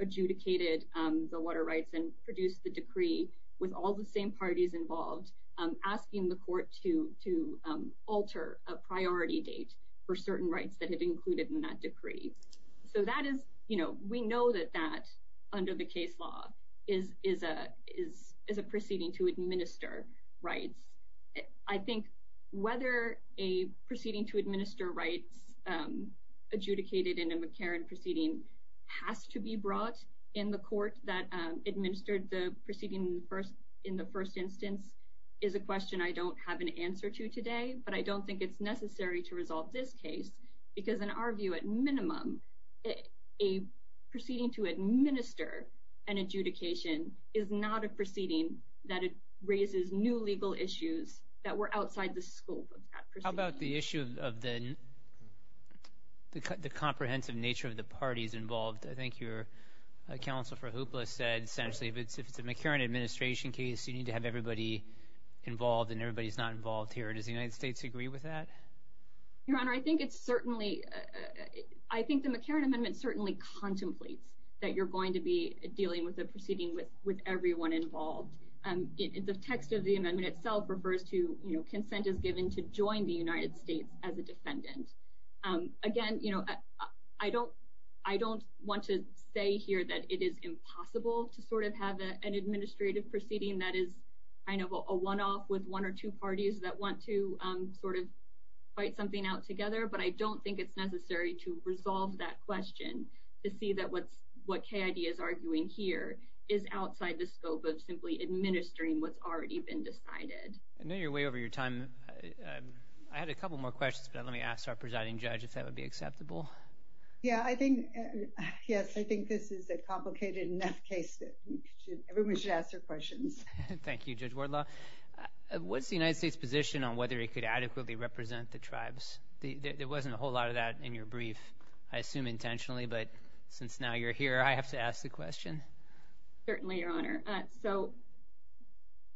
adjudicated the water rights and produced the decree with all the same parties involved, asking the court to alter a priority date for certain rights that had included in that decree. So that is, you know, we know that that under the case law is a proceeding to administer rights I think whether a proceeding to administer rights adjudicated in a McCarran proceeding has to be brought in the court that administered the proceeding in the first instance is a question I don't have an answer to today, but I don't think it's necessary to resolve this case because in our view, at minimum, a proceeding to administer an adjudication is not a proceeding that it raises new legal issues that were outside the scope of that proceeding. How about the issue of the comprehensive nature of the parties involved? I think your counsel for Hoopla said essentially if it's a McCarran administration case, you need to have everybody involved and everybody's not involved here. Does the United States agree with that? Your Honor, I think it's certainly, I think the McCarran amendment certainly contemplates that you're going to be dealing with a proceeding with everyone involved. The text of the amendment itself refers to consent is given to join the United States as a defendant. Again, I don't want to say here that it is impossible to sort of have an administrative proceeding that is kind of a one-off with one or two parties that want to sort of fight something out together, but I don't think it's necessary to resolve that question to see that what is already been decided. I know you're way over your time. I had a couple more questions, but let me ask our presiding judge if that would be acceptable. Yeah, I think, yes, I think this is a complicated enough case that everyone should ask their questions. Thank you, Judge Wardlaw. What's the United States position on whether it could adequately represent the tribes? There wasn't a whole lot of that in your brief, I assume intentionally, but since now you're here, I have to ask the question. Certainly, Your Honor. So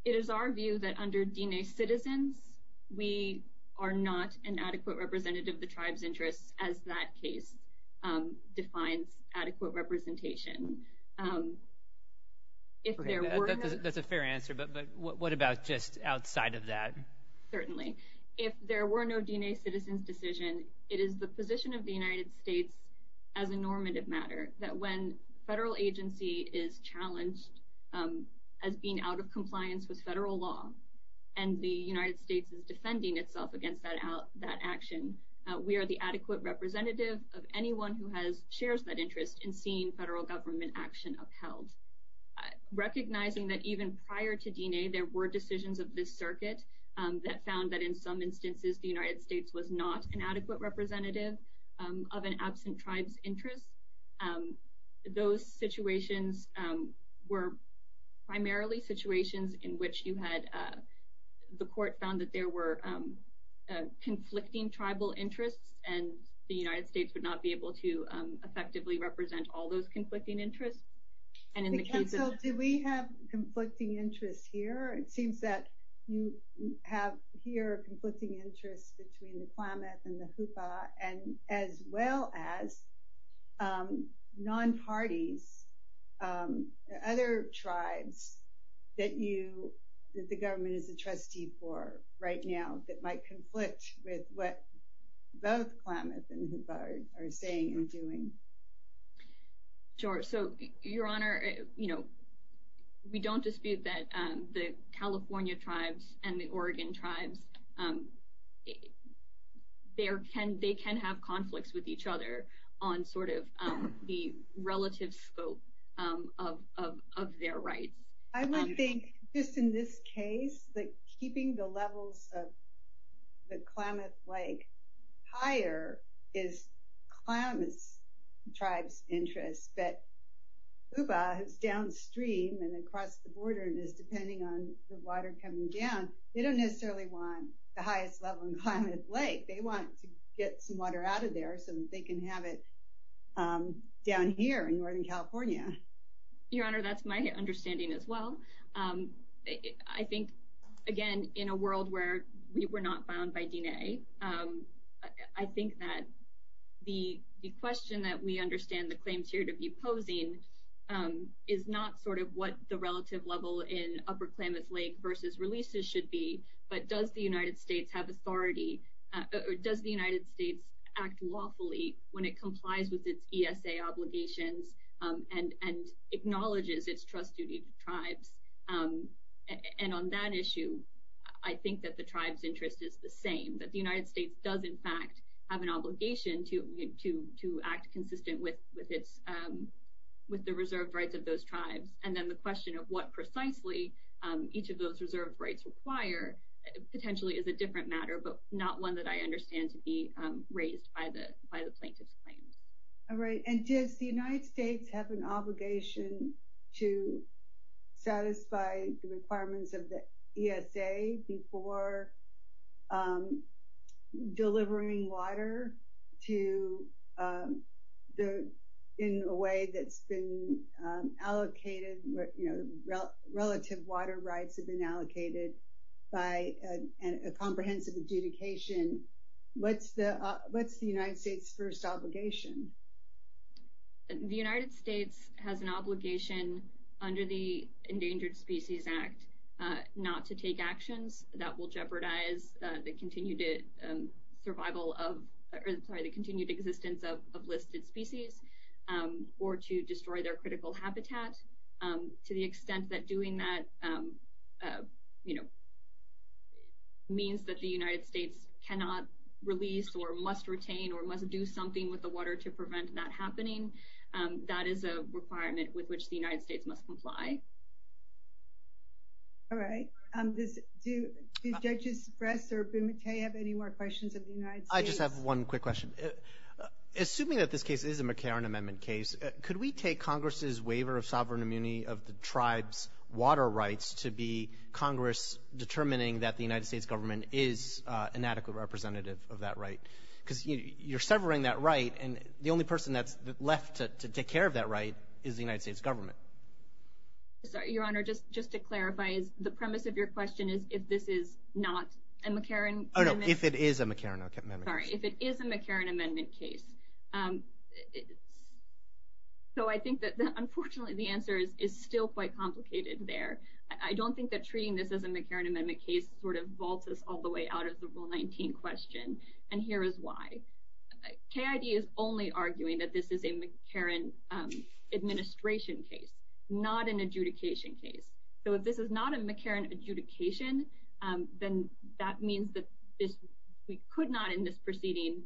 it is our view that under DNA citizens, we are not an adequate representative of the tribes' interests as that case defines adequate representation. That's a fair answer, but what about just outside of that? Certainly. If there were no DNA citizens decision, it is the position of the United States as a normative matter that when a federal agency is challenged as being out of compliance with federal law and the United States is defending itself against that action, we are the adequate representative of anyone who shares that interest in seeing federal government action upheld. Recognizing that even prior to DNA, there were decisions of this circuit that found that in some instances the United States was not an adequate representative of an absent tribe's interests. Those situations were primarily situations in which you had, the court found that there were conflicting tribal interests and the United States would not be able to effectively represent all those conflicting interests. And in the case of... Counsel, do we have conflicting interests here? It seems that you have here conflicting interests between the Klamath and the Hupa and as well as non-parties, other tribes that you, that the government is a trustee for right now that might conflict with what both Klamath and Hupa are saying and doing. Sure. So your honor, we don't dispute that the California tribes and the Oregon tribes, they can have conflicts with each other on sort of the relative scope of their rights. I would think just in this case that keeping the levels of the Klamath like higher is Klamath's tribe's interest, but Hupa is downstream and across the border and is depending on the water coming down. They don't necessarily want the highest level in Klamath Lake. They want to get some water out of there so they can have it down here in Northern California. Your honor, that's my understanding as well. I think again in a world where we were not bound by DNA, I think that the question that we understand the claims here to be posing is not sort of what the relative level in upper Klamath Lake versus releases should be, but does the United States have authority or does the United States act lawfully when it complies with its ESA obligations and acknowledges its trust duty to tribes? And on that issue, I think that the tribe's interest is the same, that the United States does in fact have an obligation to act consistent with the reserved rights of those tribes. And then the question of what precisely each of those reserved rights require potentially is a different matter, but not one that I understand to be raised by the plaintiff's claims. All right. And does the United States have an obligation to satisfy the requirements of the ESA before delivering water to the tribes? In a way that's been allocated, relative water rights have been allocated by a comprehensive adjudication. What's the United States' first obligation? The United States has an obligation under the Endangered Species Act not to take actions that will jeopardize the continued existence of listed species. Or to destroy their critical habitat. To the extent that doing that means that the United States cannot release or must retain or must do something with the water to prevent that happening, that is a requirement with which the United States must comply. All right. Do Judges Bress or Bumate have any more questions of the United States? I just have one quick question. Assuming that this case is a McCarran Amendment case, could we take Congress' waiver of sovereign immunity of the tribes' water rights to be Congress determining that the United States government is an adequate representative of that right? Because you're severing that right and the only person that's left to take care of that right is the United States government. Your Honor, just to clarify, the premise of your question is if this is not a McCarran Amendment case? Oh, no. If it is a McCarran Amendment case. Sorry. If it is a McCarran Amendment case. So I think that unfortunately the answer is still quite complicated there. I don't think that treating this as a McCarran Amendment case sort of vaults us all the way out of the Rule 19 question. And here is why. KID is only arguing that this is a McCarran Administration case, not an adjudication case. So if this is not a McCarran adjudication, then that means that we could not in this proceeding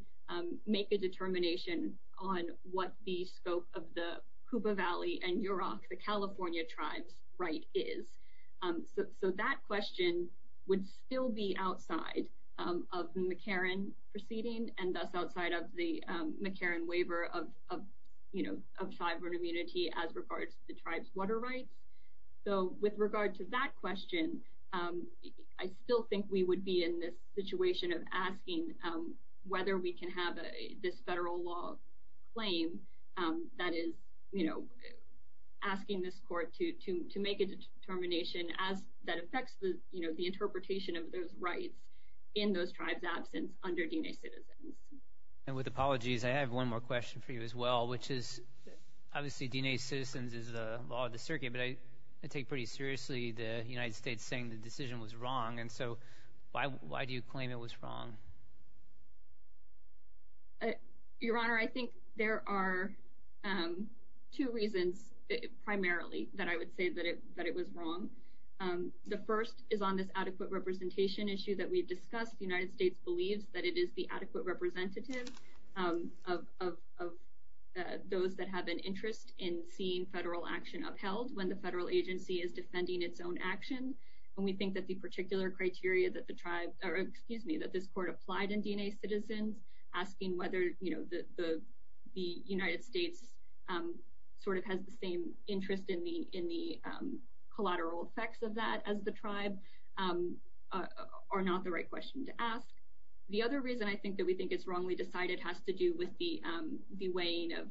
make a determination on what the scope of the Cuba Valley and Yurok, the California tribes' right is. So that question would still be outside of the McCarran proceeding and thus outside of the McCarran waiver of sovereign immunity as regards to the tribes' water rights. So with regard to that question, I still think we would be in this situation of asking whether we can have this federal law claim that is, you know, asking this court to make a determination as that affects the, you know, the interpretation of those rights in those tribes' absence under DNA Citizens. And with apologies, I have one more question for you as well, which is obviously DNA Citizens is the law of the circuit, but I take pretty seriously the United States saying the decision was wrong. And so why do you claim it was wrong? Your Honor, I think there are two reasons primarily that I would say that it was wrong. The first is on this adequate representation issue that we discussed. The United States believes that it is the adequate representative of those that have an interest in seeing federal action upheld when the federal agency is defending its own action. And we think that the particular criteria that the tribe, or excuse me, that this court applied in DNA Citizens, asking whether, you know, the United States sort of has the same interest in the collateral effects of that as the tribe are not the right question to ask. The other reason I think that we think it's wrongly decided has to do with the weighing of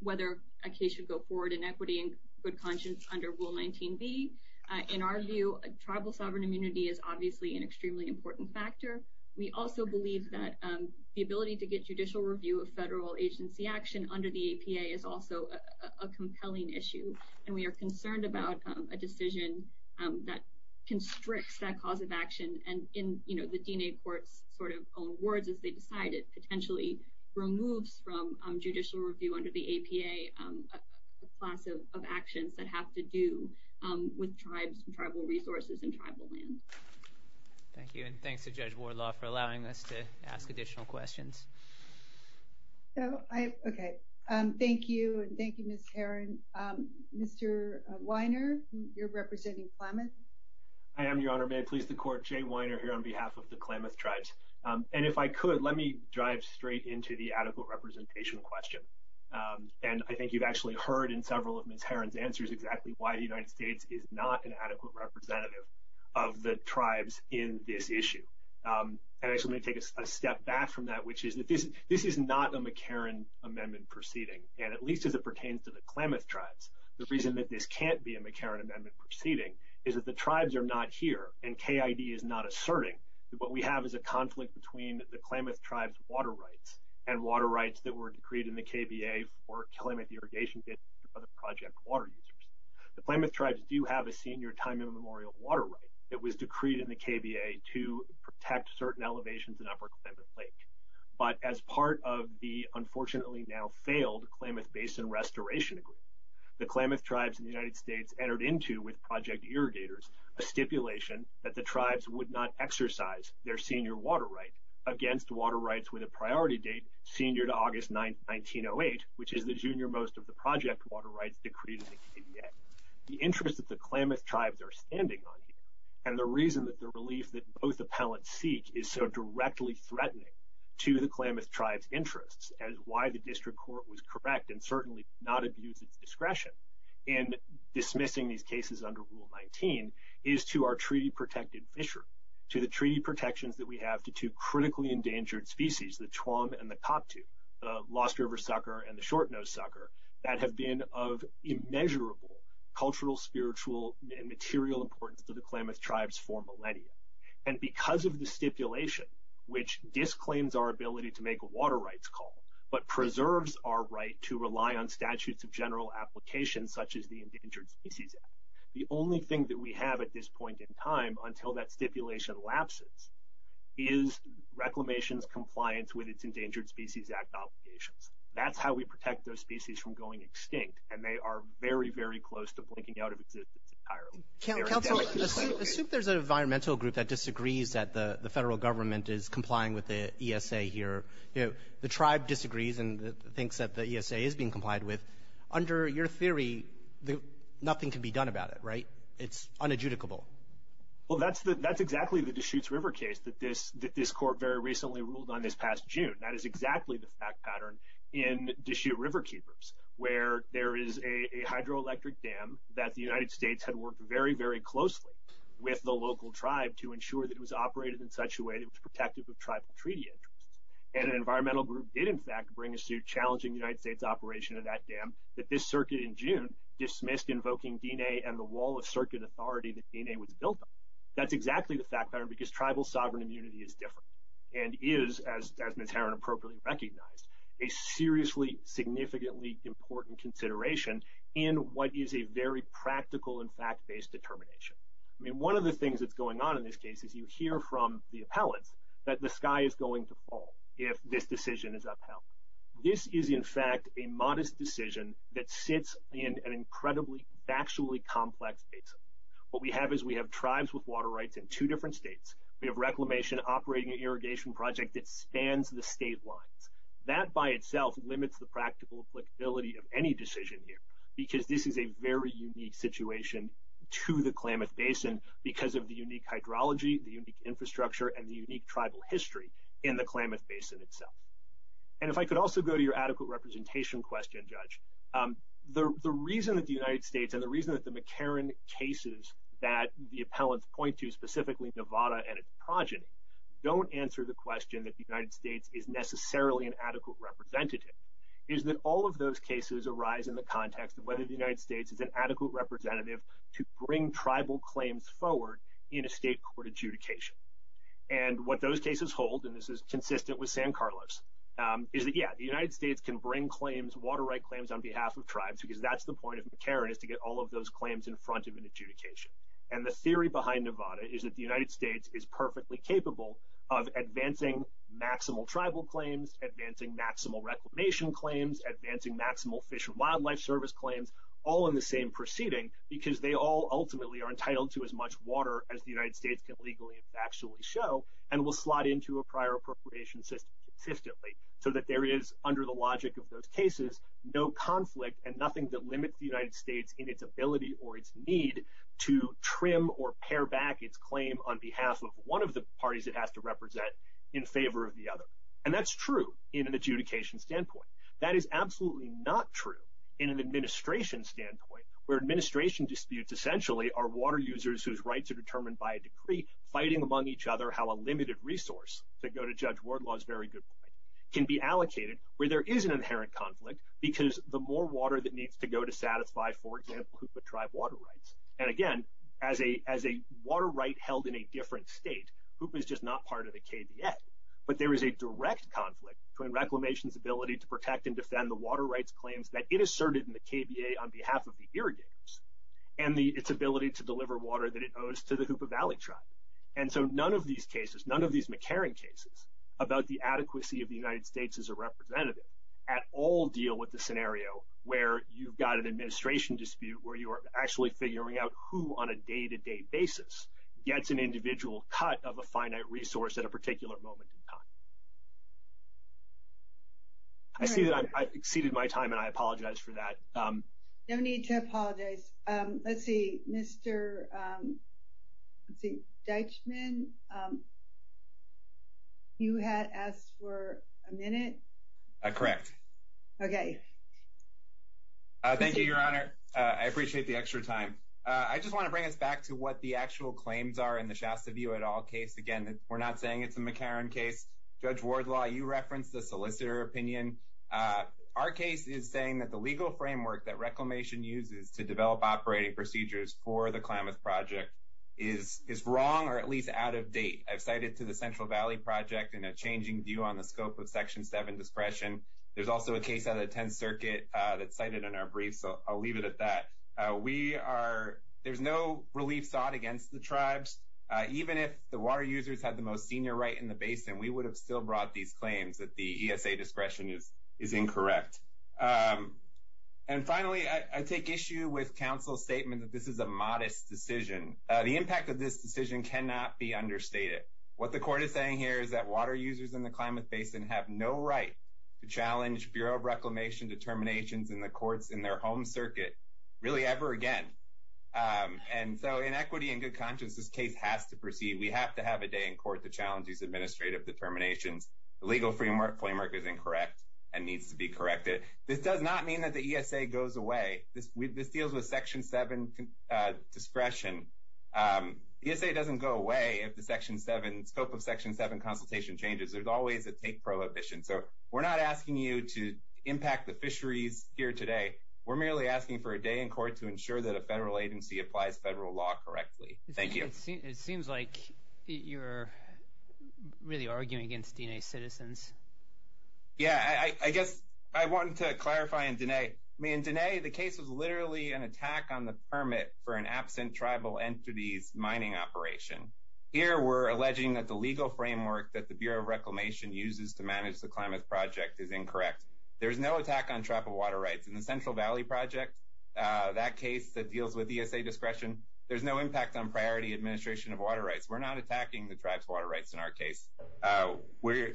whether a case should go forward in equity and good conscience under Rule 19B. In our view, tribal sovereign immunity is obviously an extremely important factor. We also believe that the ability to get judicial review of federal agency action under the APA is also a compelling issue. And we are concerned about a decision that constricts that cause of action and, you know, the DNA Court's sort of own words as they decide it potentially removes from judicial review under the APA a class of actions that have to do with tribes and tribal resources and tribal land. Thank you. And thanks to Judge Wardlaw for allowing us to ask additional questions. Okay. Thank you, and thank you, Ms. Caron. Mr. Weiner, you're representing Plymouth. I am, Your Honor. May I please the Court? Jay Weiner here on behalf of the Klamath Tribes. And if I could, let me drive straight into the adequate representation question. And I think you've actually heard in several of Ms. Caron's answers exactly why the United States is not an adequate representative of the tribes in this issue. And I just want to take a step back from that, which is that this is not a McCarran Amendment proceeding, and at least as it pertains to the Klamath Tribes. The reason that this can't be a McCarran Amendment proceeding is that the KID is not asserting that what we have is a conflict between the Klamath Tribes' water rights and water rights that were decreed in the KBA for Klamath irrigation by the project water users. The Klamath Tribes do have a senior time immemorial water right that was decreed in the KBA to protect certain elevations in Upper Klamath Lake. But as part of the unfortunately now failed Klamath Basin restoration agreement, the Klamath Tribes in the United States entered into, in conjunction with project irrigators, a stipulation that the tribes would not exercise their senior water right against water rights with a priority date senior to August 1908, which is the junior most of the project water rights decreed in the KBA. The interest that the Klamath Tribes are standing on here, and the reason that the relief that both appellants seek is so directly threatening to the Klamath Tribes' interests, and why the district court was correct and certainly not abused its under Rule 19, is to our treaty-protected fishery, to the treaty protections that we have to two critically endangered species, the Tuam and the Koptu, the Lost River Sucker and the Shortnose Sucker, that have been of immeasurable cultural, spiritual, and material importance to the Klamath Tribes for millennia. And because of the stipulation, which disclaims our ability to make a water rights call, but preserves our right to rely on statutes of general application, such as the Endangered Species Act, the only thing that we have at this point in time, until that stipulation lapses, is Reclamation's compliance with its Endangered Species Act obligations. That's how we protect those species from going extinct, and they are very, very close to blinking out of existence entirely. Assume there's an environmental group that disagrees that the federal government is complying with the ESA here. The tribe disagrees and thinks that the ESA is being complied with. Under your theory, nothing can be done about it, right? It's unadjudicable. Well, that's exactly the Deschutes River case that this court very recently ruled on this past June. That is exactly the fact pattern in Deschutes River Keepers, where there is a hydroelectric dam that the United States had worked very, very closely with the local tribe to ensure that it was operated in such a way that it was protective of tribal treaty interests. And an environmental group did in fact bring a suit challenging the United States operation of that dam that this circuit in June dismissed invoking D-Day and the wall of circuit authority that D-Day was built on. That's exactly the fact pattern because tribal sovereign immunity is different and is, as Ms. Herron appropriately recognized, a seriously, significantly important consideration in what is a very practical and fact-based determination. I mean, one of the things that's going on in this case is you hear from the appellants that the sky is going to fall if this decision is upheld. This is in fact a modest decision that sits in an incredibly factually complex basin. What we have is we have tribes with water rights in two different states. We have Reclamation operating an irrigation project that spans the state lines. That by itself limits the practical applicability of any decision here because this is a very unique situation to the Klamath Basin because of the unique hydrology, the unique infrastructure, and the unique tribal history in the Klamath Basin itself. And if I could also go to your adequate representation question, Judge, the reason that the United States and the reason that the McCarran cases that the appellants point to, specifically Nevada and its progeny, don't answer the question that the United States is necessarily an adequate representative is that all of those cases arise in the context of whether the United States is an adequate representative to bring tribal claims forward in a state court adjudication. And what those cases hold, and this is consistent with San Carlos, is that, yeah, the United States can bring claims, water right claims, on behalf of tribes because that's the point of McCarran is to get all of those claims in front of an adjudication. And the theory behind Nevada is that the United States is perfectly capable of advancing maximal tribal claims, advancing maximal Reclamation claims, advancing maximal Fish and Wildlife Service claims, all in the same proceeding because they all ultimately are entitled to as much water as the United States can legally and factually show, and will slot into a prior appropriation system consistently so that there is, under the logic of those cases, no conflict and nothing that limits the United States in its ability or its need to trim or pare back its claim on behalf of one of the parties it has to represent in favor of the other. And that's true in an adjudication standpoint. That is absolutely not true in an administration standpoint where administration disputes essentially are water users whose rights are determined by a decree, fighting among each other how a limited resource, to go to Judge Wardlaw's very good point, can be allocated where there is an inherent conflict because the more water that needs to go to satisfy, for example, Hoopa tribe water rights. And, again, as a water right held in a different state, Hoopa is just not part of the KBA, but there is a direct conflict between Reclamation's ability to protect and defend the water rights claims that it asserted in the KBA on behalf of the irrigators and its ability to deliver water that it owes to the Hoopa Valley tribe. And so none of these cases, none of these McCarran cases, about the adequacy of the United States as a representative at all deal with the scenario where you've got an administration dispute where you're actually figuring out who, on a day-to-day basis, gets an individual cut of a finite resource at a particular moment in time. I see that I've exceeded my time, and I apologize for that. No need to apologize. Let's see, Mr. Deitchman, you had asked for a minute? Correct. Okay. Thank you, Your Honor. I appreciate the extra time. I just want to bring us back to what the actual claims are in the Shasta View et al. case. Again, we're not saying it's a McCarran case. Judge Wardlaw, you referenced the solicitor opinion. Our case is saying that the legal framework that Reclamation uses to develop operating procedures for the Klamath Project is wrong or at least out of date. I've cited to the Central Valley Project in a changing view on the scope of Section 7 discretion. There's also a case out of the 10th Circuit that's cited in our brief, so I'll leave it at that. There's no relief sought against the tribes. Even if the water users had the most senior right in the basin, we would have still brought these claims that the ESA discretion is incorrect. And finally, I take issue with counsel's statement that this is a modest decision. The impact of this decision cannot be understated. What the court is saying here is that water users in the Klamath Basin have no right to challenge Bureau of Reclamation determinations in the courts in their home circuit really ever again. And so in equity and good conscience, this case has to proceed. We have to have a day in court to challenge these administrative determinations. The legal framework is incorrect and needs to be corrected. This does not mean that the ESA goes away. This deals with Section 7 discretion. ESA doesn't go away if the scope of Section 7 consultation changes. There's always a take prohibition. So we're not asking you to impact the fisheries here today. We're merely asking for a day in court to ensure that a federal agency applies federal law correctly. Thank you. It seems like you're really arguing against D&A citizens. Yeah, I guess I wanted to clarify in D&A. I mean, in D&A, the case was literally an attack on the permit for an absent tribal entity's mining operation. Here, we're alleging that the legal framework that the Bureau of Reclamation uses to manage the climate project is incorrect. There's no attack on tribal water rights in the Central Valley project. That case that deals with ESA discretion, there's no impact on priority administration of water rights. We're not attacking the tribe's water rights in our case.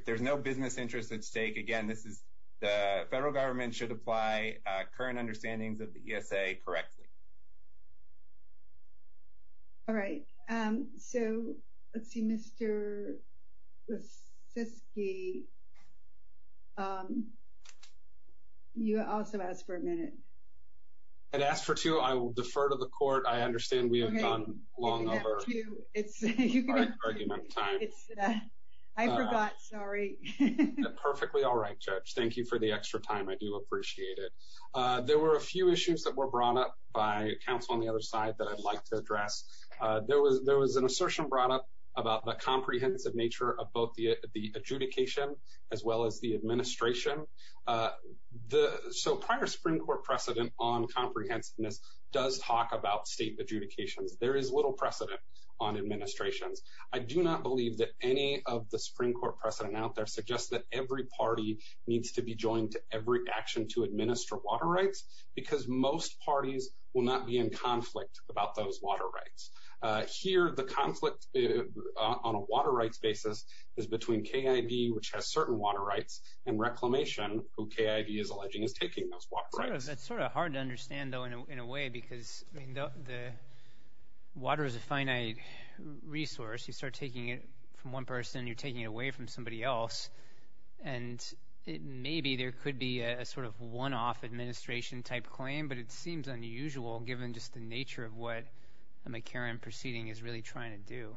There's no business interest at stake. Again, the federal government should apply current understandings of the ESA correctly. All right. So, let's see. Mr. Brzezinski, you also asked for a minute. I asked for two. I will defer to the court. I understand we have gone long over argument time. I forgot. Sorry. Perfectly all right, Judge. Thank you for the extra time. I do appreciate it. There were a few issues that were brought up by counsel on the other side that I'd like to address. There was an assertion brought up about the comprehensive nature of both the adjudication as well as the administration. So, prior Supreme Court precedent on comprehensiveness does talk about state adjudications. There is little precedent on administrations. I do not believe that any of the Supreme Court precedent out there suggests that every party needs to be joined to every action to administer water rights because most parties will not be in conflict about those water rights. Here, the conflict on a water rights basis is between KID, which has certain water rights, and Reclamation, who KID is alleging is taking those water rights. That's sort of hard to understand, though, in a way because the water is a finite resource. You start taking it from one person, you're taking it away from somebody else, and maybe there could be a sort of one-off administration type claim, but it seems unusual given just the nature of what a McCarran proceeding is really trying to do.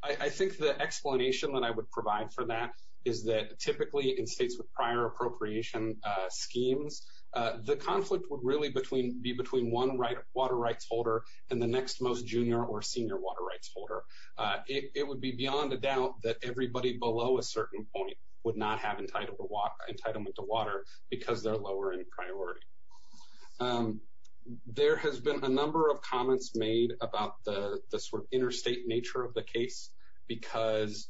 I think the explanation that I would provide for that is that typically in states with prior appropriation schemes, the conflict would really be between one water rights holder and the next most junior or senior water rights holder. It would be beyond a doubt that everybody below a certain point would not have entitlement to water because they're lower in priority. There has been a number of comments made about the sort of interstate nature of the case because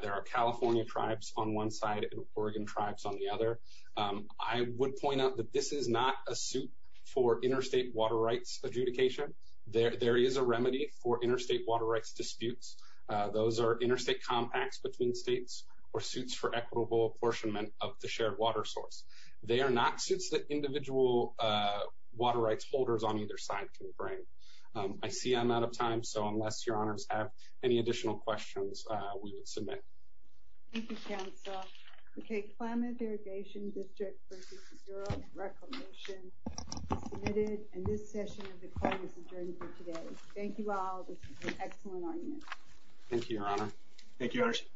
there are California tribes on one side and Oregon tribes on the other. I would point out that this is not a suit for interstate water rights adjudication. There is a remedy for interstate water rights disputes. Those are interstate compacts between states or suits for equitable apportionment of the shared water source. They are not suits that individual water rights holders on either side can bring. I see I'm out of time, so unless your honors have any additional questions, we will submit. Thank you, counsel. Okay, Climate Irrigation District versus the Bureau of Reclamation is submitted, and this session of the court is adjourned for today. Thank you all. This was an excellent argument. Thank you, your honor. Thank you, judge.